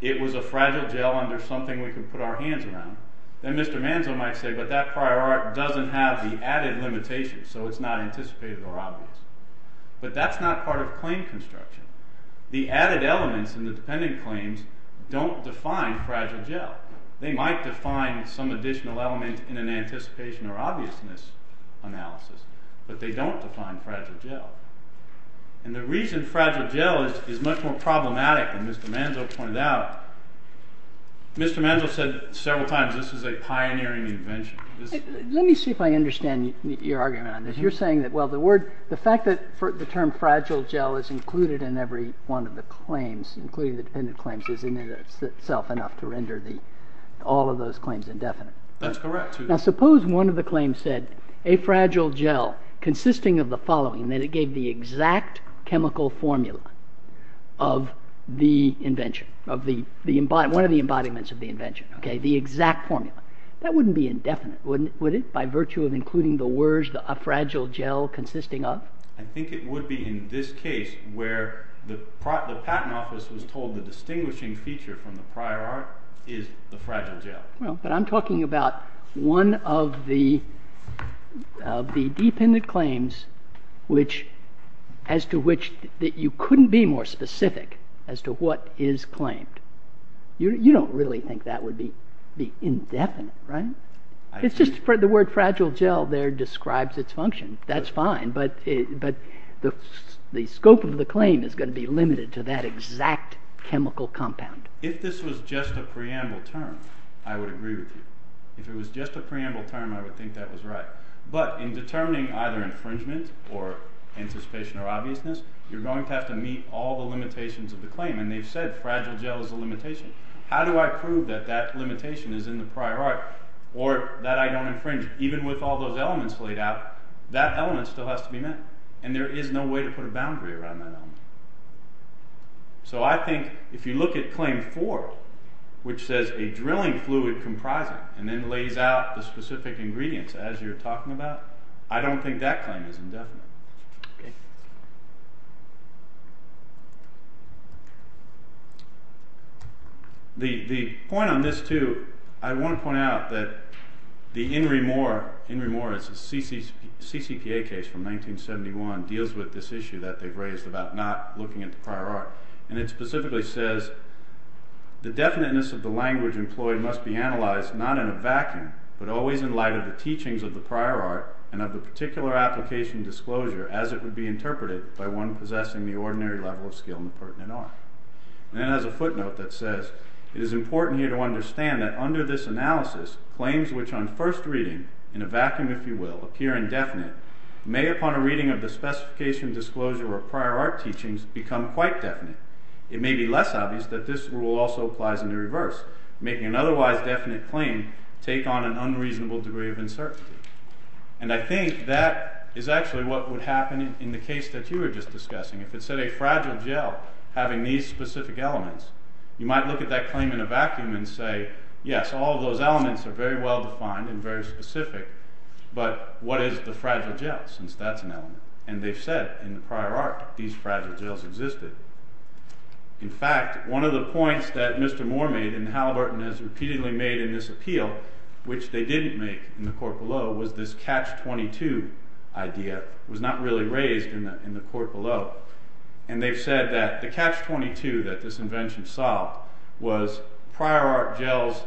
it was a fragile gel under something we can put our hands on. Then Mr. Manzo might say, but that prior art doesn't have the added limitation, so it's not anticipated or obvious. But that's not part of claim construction. The added elements in the dependent claims don't define fragile gel. They might define some additional element in an anticipation or obviousness analysis, but they don't define fragile gel. And the reason fragile gel is much more problematic than Mr. Manzo pointed out, Mr. Manzo said several times this is a pioneering invention. Let me see if I understand your argument on this. You're saying that, well, the word, the fact that the term fragile gel is included in every one of the claims, including the dependent claims, is in itself enough to render all of those claims indefinite. That's correct. Now suppose one of the claims said, a fragile gel consisting of the following, that it gave the exact chemical formula of the invention, one of the embodiments of the invention, the exact formula. That wouldn't be indefinite, would it, by virtue of including the words a fragile gel consisting of? I think it would be in this case where the patent office was told the distinguishing feature from the prior art is the fragile gel. But I'm talking about one of the dependent claims which, as to which you couldn't be more specific as to what is claimed. You don't really think that would be indefinite, right? It's just the word fragile gel there describes its function. That's fine. But the scope of the claim is going to be limited to that exact chemical compound. If this was just a preamble term, I would agree with you. If it was just a preamble term, I would think that was right. But in determining either infringement or anticipation or obviousness, you're going to have to meet all the limitations of the claim. And they've said fragile gel is a limitation. How do I prove that that limitation is in the prior art, or that I don't infringe? Even with all those elements laid out, that element still has to be met. And there is no way to put a boundary around that element. So I think if you look at Claim 4, which says the drilling fluid comprises and then lays out the specific ingredients as you're talking about, I don't think that claim is indefinite. The point on this, too, I want to point out that the Henry Moore, Henry Moore is a CCPA case from 1971, deals with this issue that they've raised about not looking at the prior art. And it specifically says, the definiteness of the language employed must be analyzed not in a vacuum, but always in light of the teachings of the prior art and of the particular application disclosure as it would be interpreted by one possessing the ordinary level of skill important in art. And then it has a footnote that says, it is important here to understand that under this analysis, claims which on first reading, in a vacuum if you will, appear indefinite may upon a reading of the specification disclosure or prior art teachings become quite definite. It may be less obvious that this rule also applies in the reverse, making an otherwise definite claim take on an unreasonable degree of uncertainty. And I think that is actually what would happen in the case that you were just discussing. If it said a fragile gel having these specific elements, you might look at that claim in a vacuum and say, yes, all of those elements are very well defined and very specific, but what is the fragile gel since that's an element? And they said in the prior art these fragile gels existed. In fact, one of the points that Mr. Moore made and Halliburton has repeatedly made in this appeal, which they didn't make in the court below, was this catch-22 idea was not really raised in the court below. And they've said that the catch-22 that this invention saw was prior art gels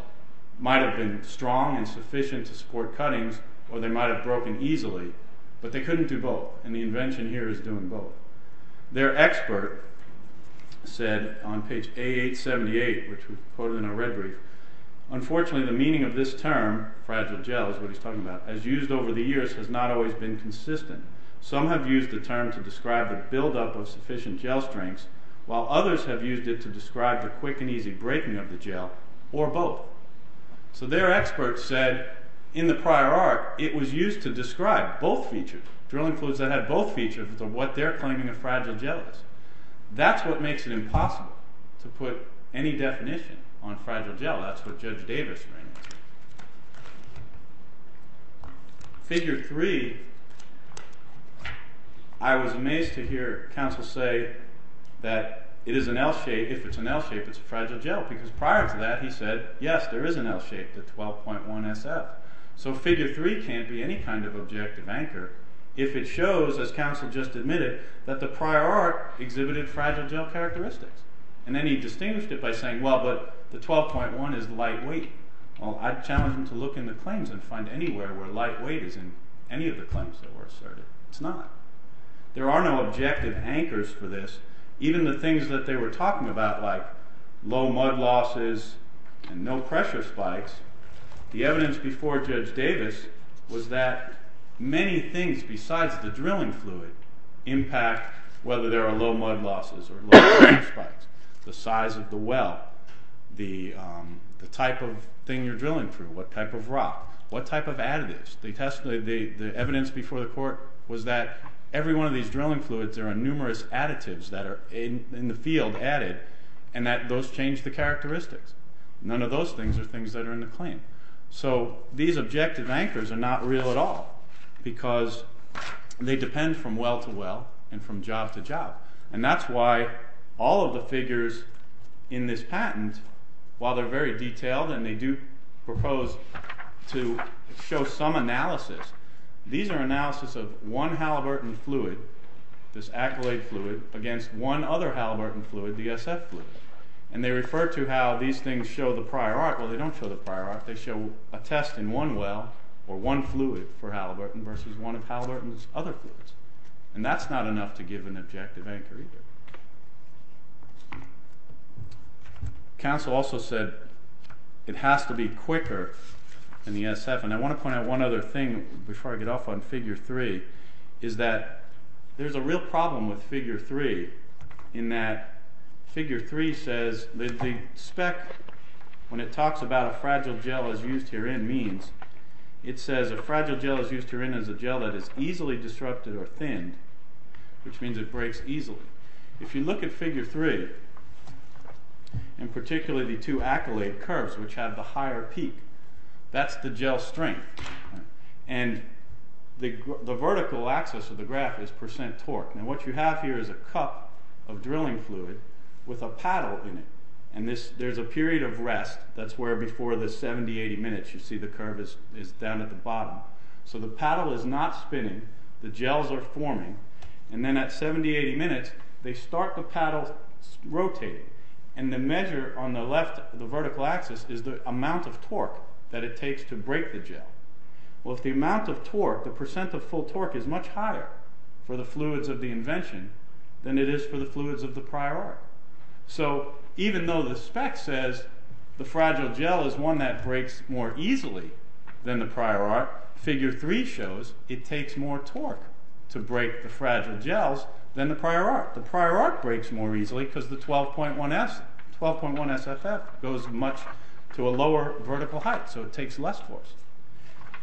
might have been strong and sufficient to score cutting, or they might have broken easily, but they couldn't do both. And the invention here is doing both. Their expert said on page 878, which was quoted in a red brief, unfortunately the meaning of this term, fragile gel is what he's talking about, as used over the years has not always been consistent. Some have used the term to describe the buildup of sufficient gel strengths, while others have used it to describe the quick and easy breaking of the gel, or both. So their expert said in the prior art it was used to describe both features, drilling clues that have both features of what they're claiming a fragile gel is. That's what makes it impossible to put any definition on fragile gel. That's what Judge Davis meant. Figure 3, I was amazed to hear counsel say that it is an L-shape, if it's an L-shape it's a fragile gel, because prior to that he said, yes, there is an L-shape, the 12.1 SF. So figure 3 can't be any kind of objective anchor, if it shows, as counsel just admitted, that the prior art exhibited fragile gel characteristics. And then he distinguished it by saying, well, but the 12.1 is lightweight. Well, I'd challenge him to look in the claims and find anywhere where lightweight is in any of the claims that were asserted. It's not. There are no objective anchors for this, even the things that they were talking about like low mud losses and no pressure spikes. The evidence before Judge Davis was that many things besides the drilling fluid impact whether there are low mud losses or low pressure spikes, the size of the well, the type of thing you're drilling through, what type of rock, what type of additives. The evidence before the court was that every one of these drilling fluids, there are numerous additives that are in the field added and that those change the characteristic. None of those things are things that are in the claim. So these objective anchors are not real at all, because they depend from well to well and from job to job. And that's why all of the figures in this patent, while they're very detailed and they do propose to show some analysis, these are analysis of one Halliburton fluid, this acrylate fluid, against one other Halliburton fluid, the SF fluid. And they refer to how these things show the prior art. Well, they don't show the prior art. They show a test in one well or one fluid for Halliburton versus one of Halliburton's other fluids. And that's not enough to give an objective anchor either. Counsel also said it has to be quicker than the SF. And I want to point out one other thing before I get off on Figure 3, is that there's a real problem with Figure 3 in that Figure 3 says that the spec, when it talks about a fragile gel as used herein means, it says a fragile gel as used herein is a gel that is easily disrupted or thinned, which means it breaks easily. If you look at Figure 3, in particular the two acrylate curves which have the higher peak, that's the gel strength. And the vertical axis of the graph is percent torque. And what you have here is a cup of drilling fluid with a paddle in it. And there's a period of rest. That's where before the 70, 80 minutes you see the curve is down at the bottom. So the paddle is not spinning. The gels are forming. And then at 70, 80 minutes they start the paddle rotating. And the measure on the left, the vertical axis, is the amount of torque that it takes to break the gel. Well, if the amount of torque, the percent of full torque, is much higher for the fluids of the invention than it is for the fluids of the prior art. So even though the spec says the fragile gel is one that breaks more easily than the prior art, Figure 3 shows it takes more torque to break the fragile gels than the prior art. The prior art breaks more easily because the 12.1 SFF goes much to a lower vertical height. So it takes less force.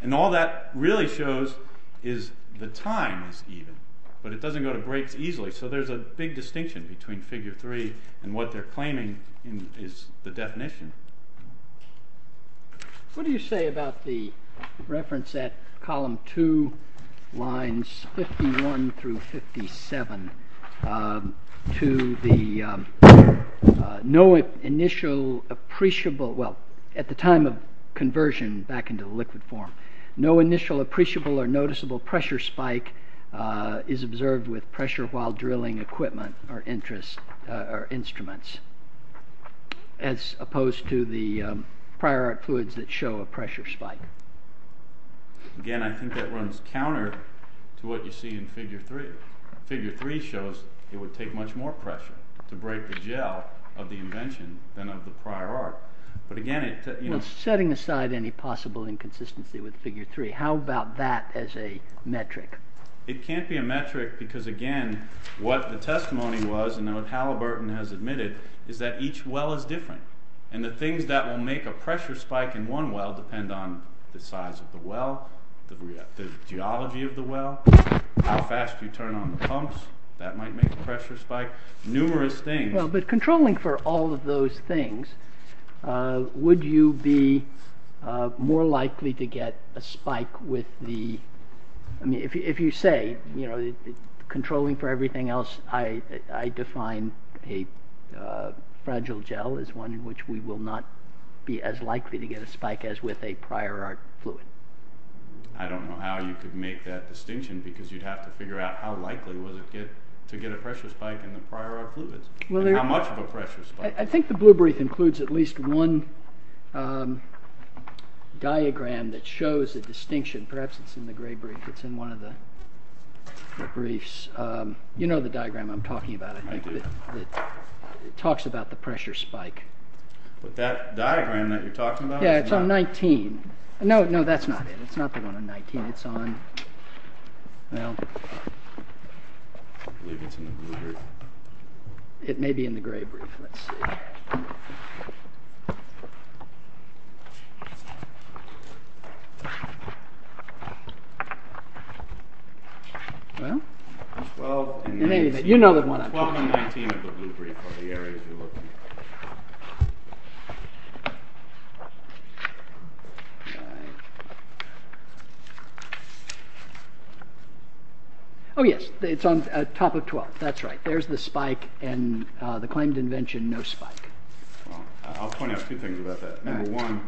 And all that really shows is the time is even. But it doesn't go to break easily. So there's a big distinction between Figure 3 and what they're claiming is the definition. What do you say about the reference at column 2, lines 51 through 57, to the no initial appreciable, well, at the time of conversion back into the liquid form, no initial appreciable or noticeable pressure spike is observed with pressure while drilling equipment or instruments, as opposed to the prior art fluids that show a pressure spike? Again, I think that runs counter to what you see in Figure 3. Figure 3 shows it would take much more pressure to break the gel of the invention than of the prior art. But again, it's... Well, setting aside any possible inconsistency with Figure 3, how about that as a metric? It can't be a metric because, again, what the testimony was, and what Halliburton has admitted, is that each well is different. And the things that will make a pressure spike in one well depend on the size of the well, the geology of the well, how fast you turn on the pumps, that might make a pressure spike, numerous things. Well, but controlling for all of those things, would you be more likely to get a spike with the... I mean, if you say, you know, controlling for everything else, I define a fragile gel as one in which we will not be as likely to get a spike as with a prior art fluid. I don't know how you could make that distinction because you'd have to figure out how likely was it to get a pressure spike in the prior art fluids, and how much of a pressure spike. I think the blue brief includes at least one diagram that shows a distinction. Perhaps it's in the gray brief. It's in one of the briefs. You know the diagram I'm talking about, I think. I do. It talks about the pressure spike. That diagram that you're talking about? Yeah, it's on 19. No, no, that's not it. It's not the one on 19. It's on, well, it may be in the gray brief. Let's see. Well, in any event, you know the one I'm talking about. 12 and 19 of the blue brief are the areas we're looking at. Oh, yes. It's on top of 12. That's right. There's the spike and the claim to invention, no spike. I'll point out a few things about that. Number one,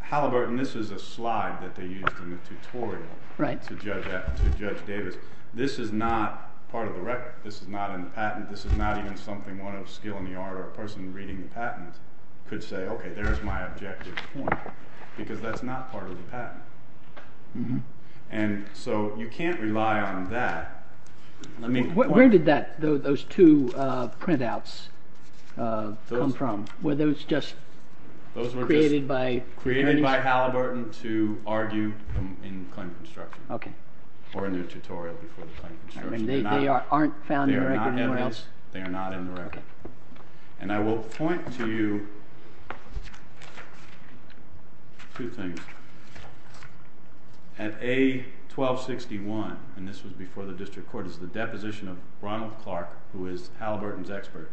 Halliburton, this is a slide that they use in the tutorial to judge data. This is not part of the record. This is not in the patent. This is not even something one of a skill in the art or a person reading the patent could say, okay, there's my objective point because that's not part of the patent. And so you can't rely on that. Where did those two printouts come from? Were those just created by Halliburton? Created by Halliburton to argue in the claim construction or in the tutorial before the claim construction. They aren't found in the record? They are not in the record. And I will point to you two things. At age 1261, and this was before the district court, is the deposition of Ronald Clark, who is Halliburton's expert.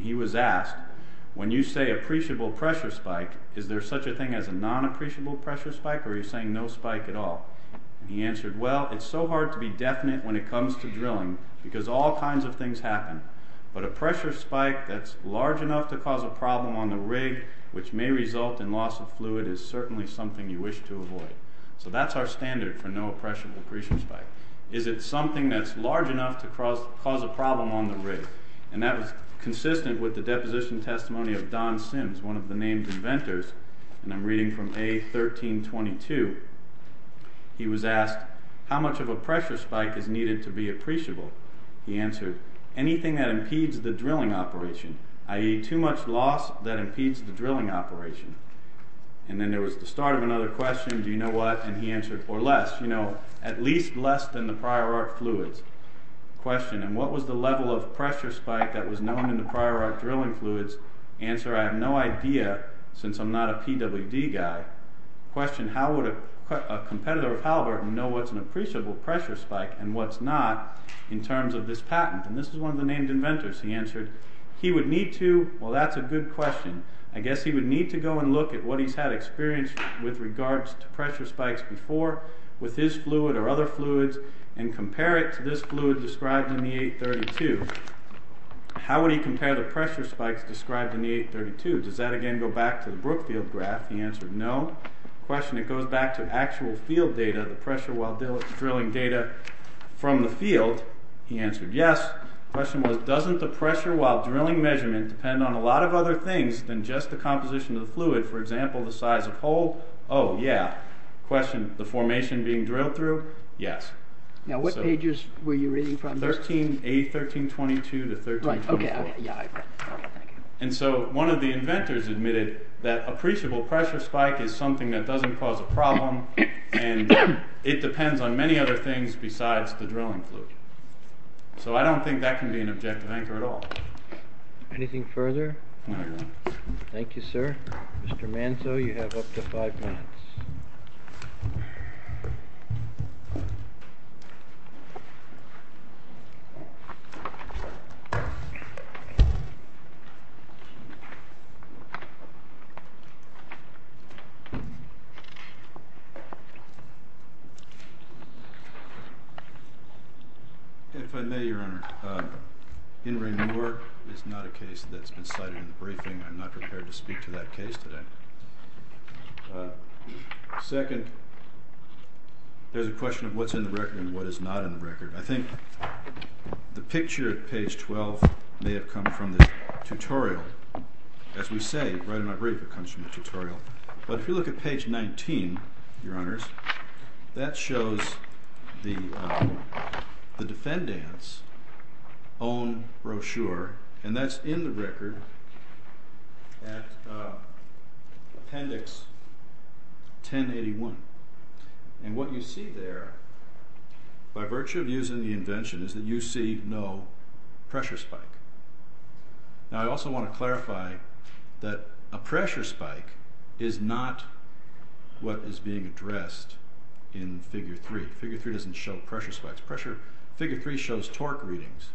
He was asked, when you say appreciable pressure spike, is there such a thing as a non-appreciable pressure spike or are you saying no spike at all? He answered, well, it's so hard to be definite when it comes to drilling because all kinds of things happen. But a pressure spike that's large enough to cause a problem on the rig which may result in loss of fluid is certainly something you wish to avoid. So that's our standard for no appreciable pressure spike. Is it something that's large enough to cause a problem on the rig? And that was consistent with the deposition testimony of Don Sims, one of the named inventors, and I'm reading from A1322. He was asked, how much of a pressure spike is needed to be appreciable? He answered, anything that impedes the drilling operation, i.e. too much loss that impedes the drilling operation. And then there was the start of another question, do you know what? And he answered, or less, you know, at least less than the prior art fluid. Question, and what was the level of pressure spike that was known in the prior art drilling fluids? Answer, I have no idea since I'm not a PWD guy. Question, how would a competitor of Halliburton know what's an appreciable pressure spike and what's not in terms of this patent? And this is one of the named inventors. He answered, he would need to, well, that's a good question. I guess he would need to go and look at what he's had experienced with regards to pressure spikes before with his fluid or other fluids and compare it to this fluid described in the A1322. How would he compare the pressure spikes described in the A1322? Does that, again, go back to the Brookfield graph? He answered, no. Question, it goes back to actual field data, the pressure while drilling data from the field. He answered, yes. Question was, doesn't the pressure while drilling measurement depend on a lot of other things than just the composition of the fluid, for example, the size of hole? Oh, yeah. Question, the formation being drilled through? Yes. Now, what pages were you reading from? A1322 to A1324. Right, okay, yeah. And so one of the inventors admitted that appreciable pressure spike is something that doesn't cause a problem and it depends on many other things besides the drilling fluid. So I don't think that can be an objective anchor at all. Anything further? No. Thank you, sir. Mr. Manto, you have up to five minutes. If I may, Your Honor, Henry Moore is not a case that's been cited in the briefing. I'm not prepared to speak to that case today. Second, there's a question of what's in the record and what is not in the record. I think the picture at page 12 may have come from the tutorial. As we say, right in my brief, it comes from the tutorial. But if you look at page 19, Your Honors, that shows the defendant's own brochure, and that's in the record at appendix 1081. And what you see there, by virtue of using the invention, is that you see no pressure spike. Now, I also want to clarify that a pressure spike is not what is being addressed in Figure 3. Figure 3 doesn't show pressure spikes. Figure 3 shows torque readings,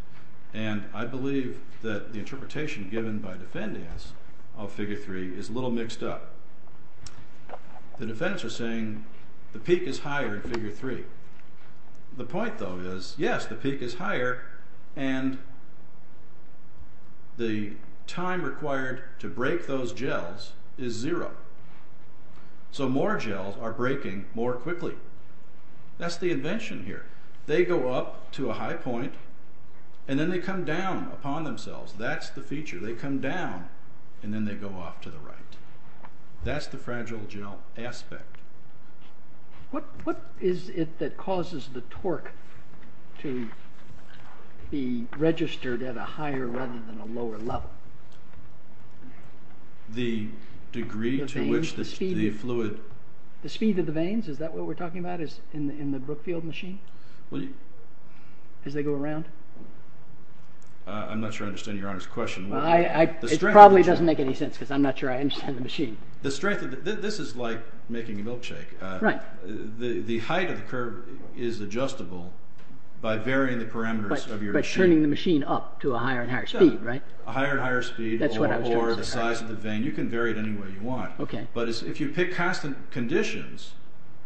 and I believe that the interpretation given by defendants of Figure 3 is a little mixed up. The defense is saying the peak is higher in Figure 3. The point, though, is yes, the peak is higher, and the time required to break those gels is zero. So more gels are breaking more quickly. That's the invention here. They go up to a high point, and then they come down upon themselves. That's the feature. They come down, and then they go off to the right. That's the fragile gel aspect. What is it that causes the torque to be registered at a higher rather than a lower level? The degree to which the fluid... The speed of the veins? Is that what we're talking about, in the Brookfield machine, as they go around? I'm not sure I understand your honest question. It probably doesn't make any sense, because I'm not sure I understand the machine. This is like making a milkshake. The height of the curve is adjustable by varying the parameters of your machine. By turning the machine up to a higher and higher speed, right? A higher and higher speed or the size of the vein. You can vary it any way you want. But if you pick constant conditions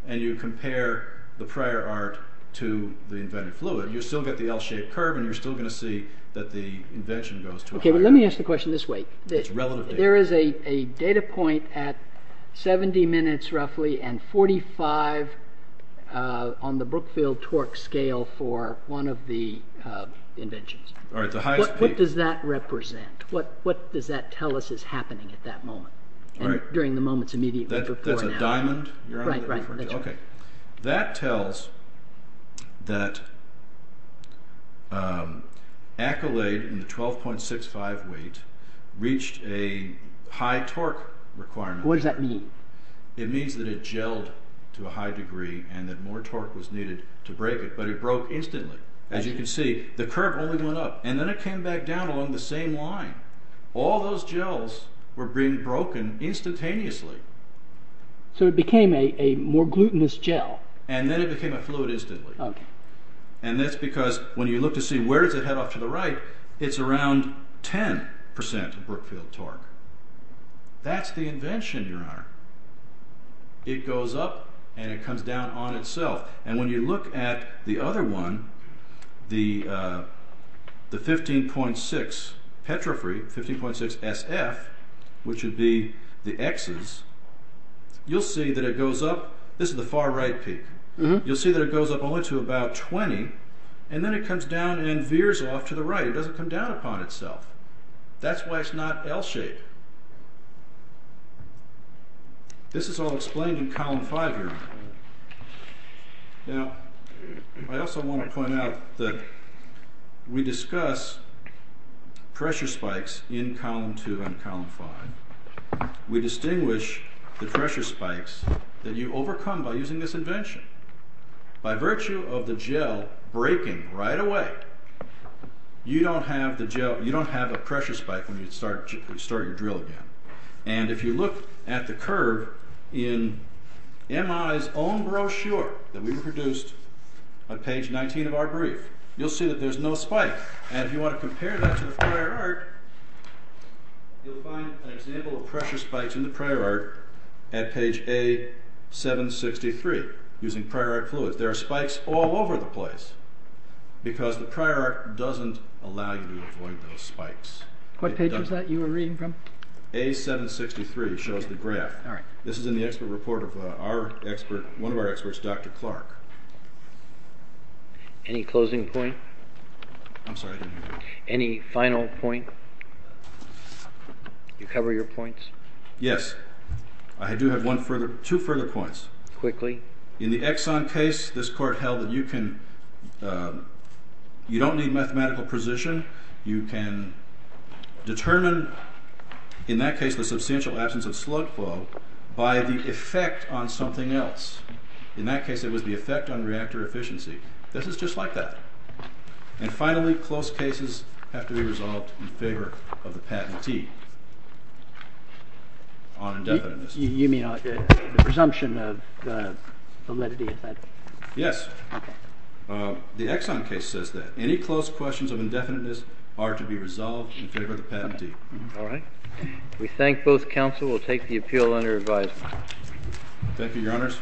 and you compare the prior art to the invented fluid, you still get the L-shaped curve, and you're still going to see that the invention goes... Let me ask the question this way. There is a data point at 70 minutes roughly and 45 on the Brookfield torque scale for one of the inventions. What does that represent? What does that tell us is happening at that moment during the moments immediately before and after? That's a diamond? Right, right. That tells that Accolade in the 12.65 weight reached a high torque requirement. What does that mean? It means that it gelled to a high degree and that more torque was needed to break it, but it broke instantly. As you can see, the current only went up, and then it came back down along the same line. All those gels were being broken instantaneously. So it became a more glutinous gel. And then it became a fluid instantly. Okay. And that's because when you look to see where does it head off to the right, it's around 10% of Brookfield torque. That's the invention in your art. It goes up and it comes down on itself. And when you look at the other one, the 15.6 Petrofree, 15.6 SF, which would be the Xs, you'll see that it goes up. This is the far right peak. You'll see that it goes up only to about 20, and then it comes down and veers off to the right. It doesn't come down upon itself. That's why it's not L-shaped. This is all explained in column 5 here. Now, I also want to point out that we discuss pressure spikes in column 2 and column 5. We distinguish the pressure spikes that you overcome by using this invention. By virtue of the gel breaking right away, you don't have a pressure spike when you start your drill again. And if you look at the curve in MI's own brochure that we produced on page 19 of our brief, you'll see that there's no spike. And if you want to compare that to the prior art, you'll find an example of pressure spikes in the prior art at page A763, using prior art fluid. There are spikes all over the place because the prior art doesn't allow you to avoid those spikes. What page is that you were reading from? A763 shows the graph. This is in the expert report of one of our experts, Dr. Clark. Any closing point? I'm sorry, I didn't hear you. Any final point? Did you cover your points? Yes. I do have two further points. Quickly. In the Exxon case, this court held that you can... You don't need mathematical precision. You can determine, in that case, the substantial absence of slug flow by the effect on something else. In that case, it was the effect on reactor efficiency. This is just like that. And finally, close cases have to be resolved in favor of the patentee on indefiniteness. You mean the presumption of validity of that? Yes. Okay. The Exxon case says that. Any close questions of indefiniteness are to be resolved in favor of the patentee. All right. We thank both counsel. We'll take the appeal under advisory. Thank you, Your Honors.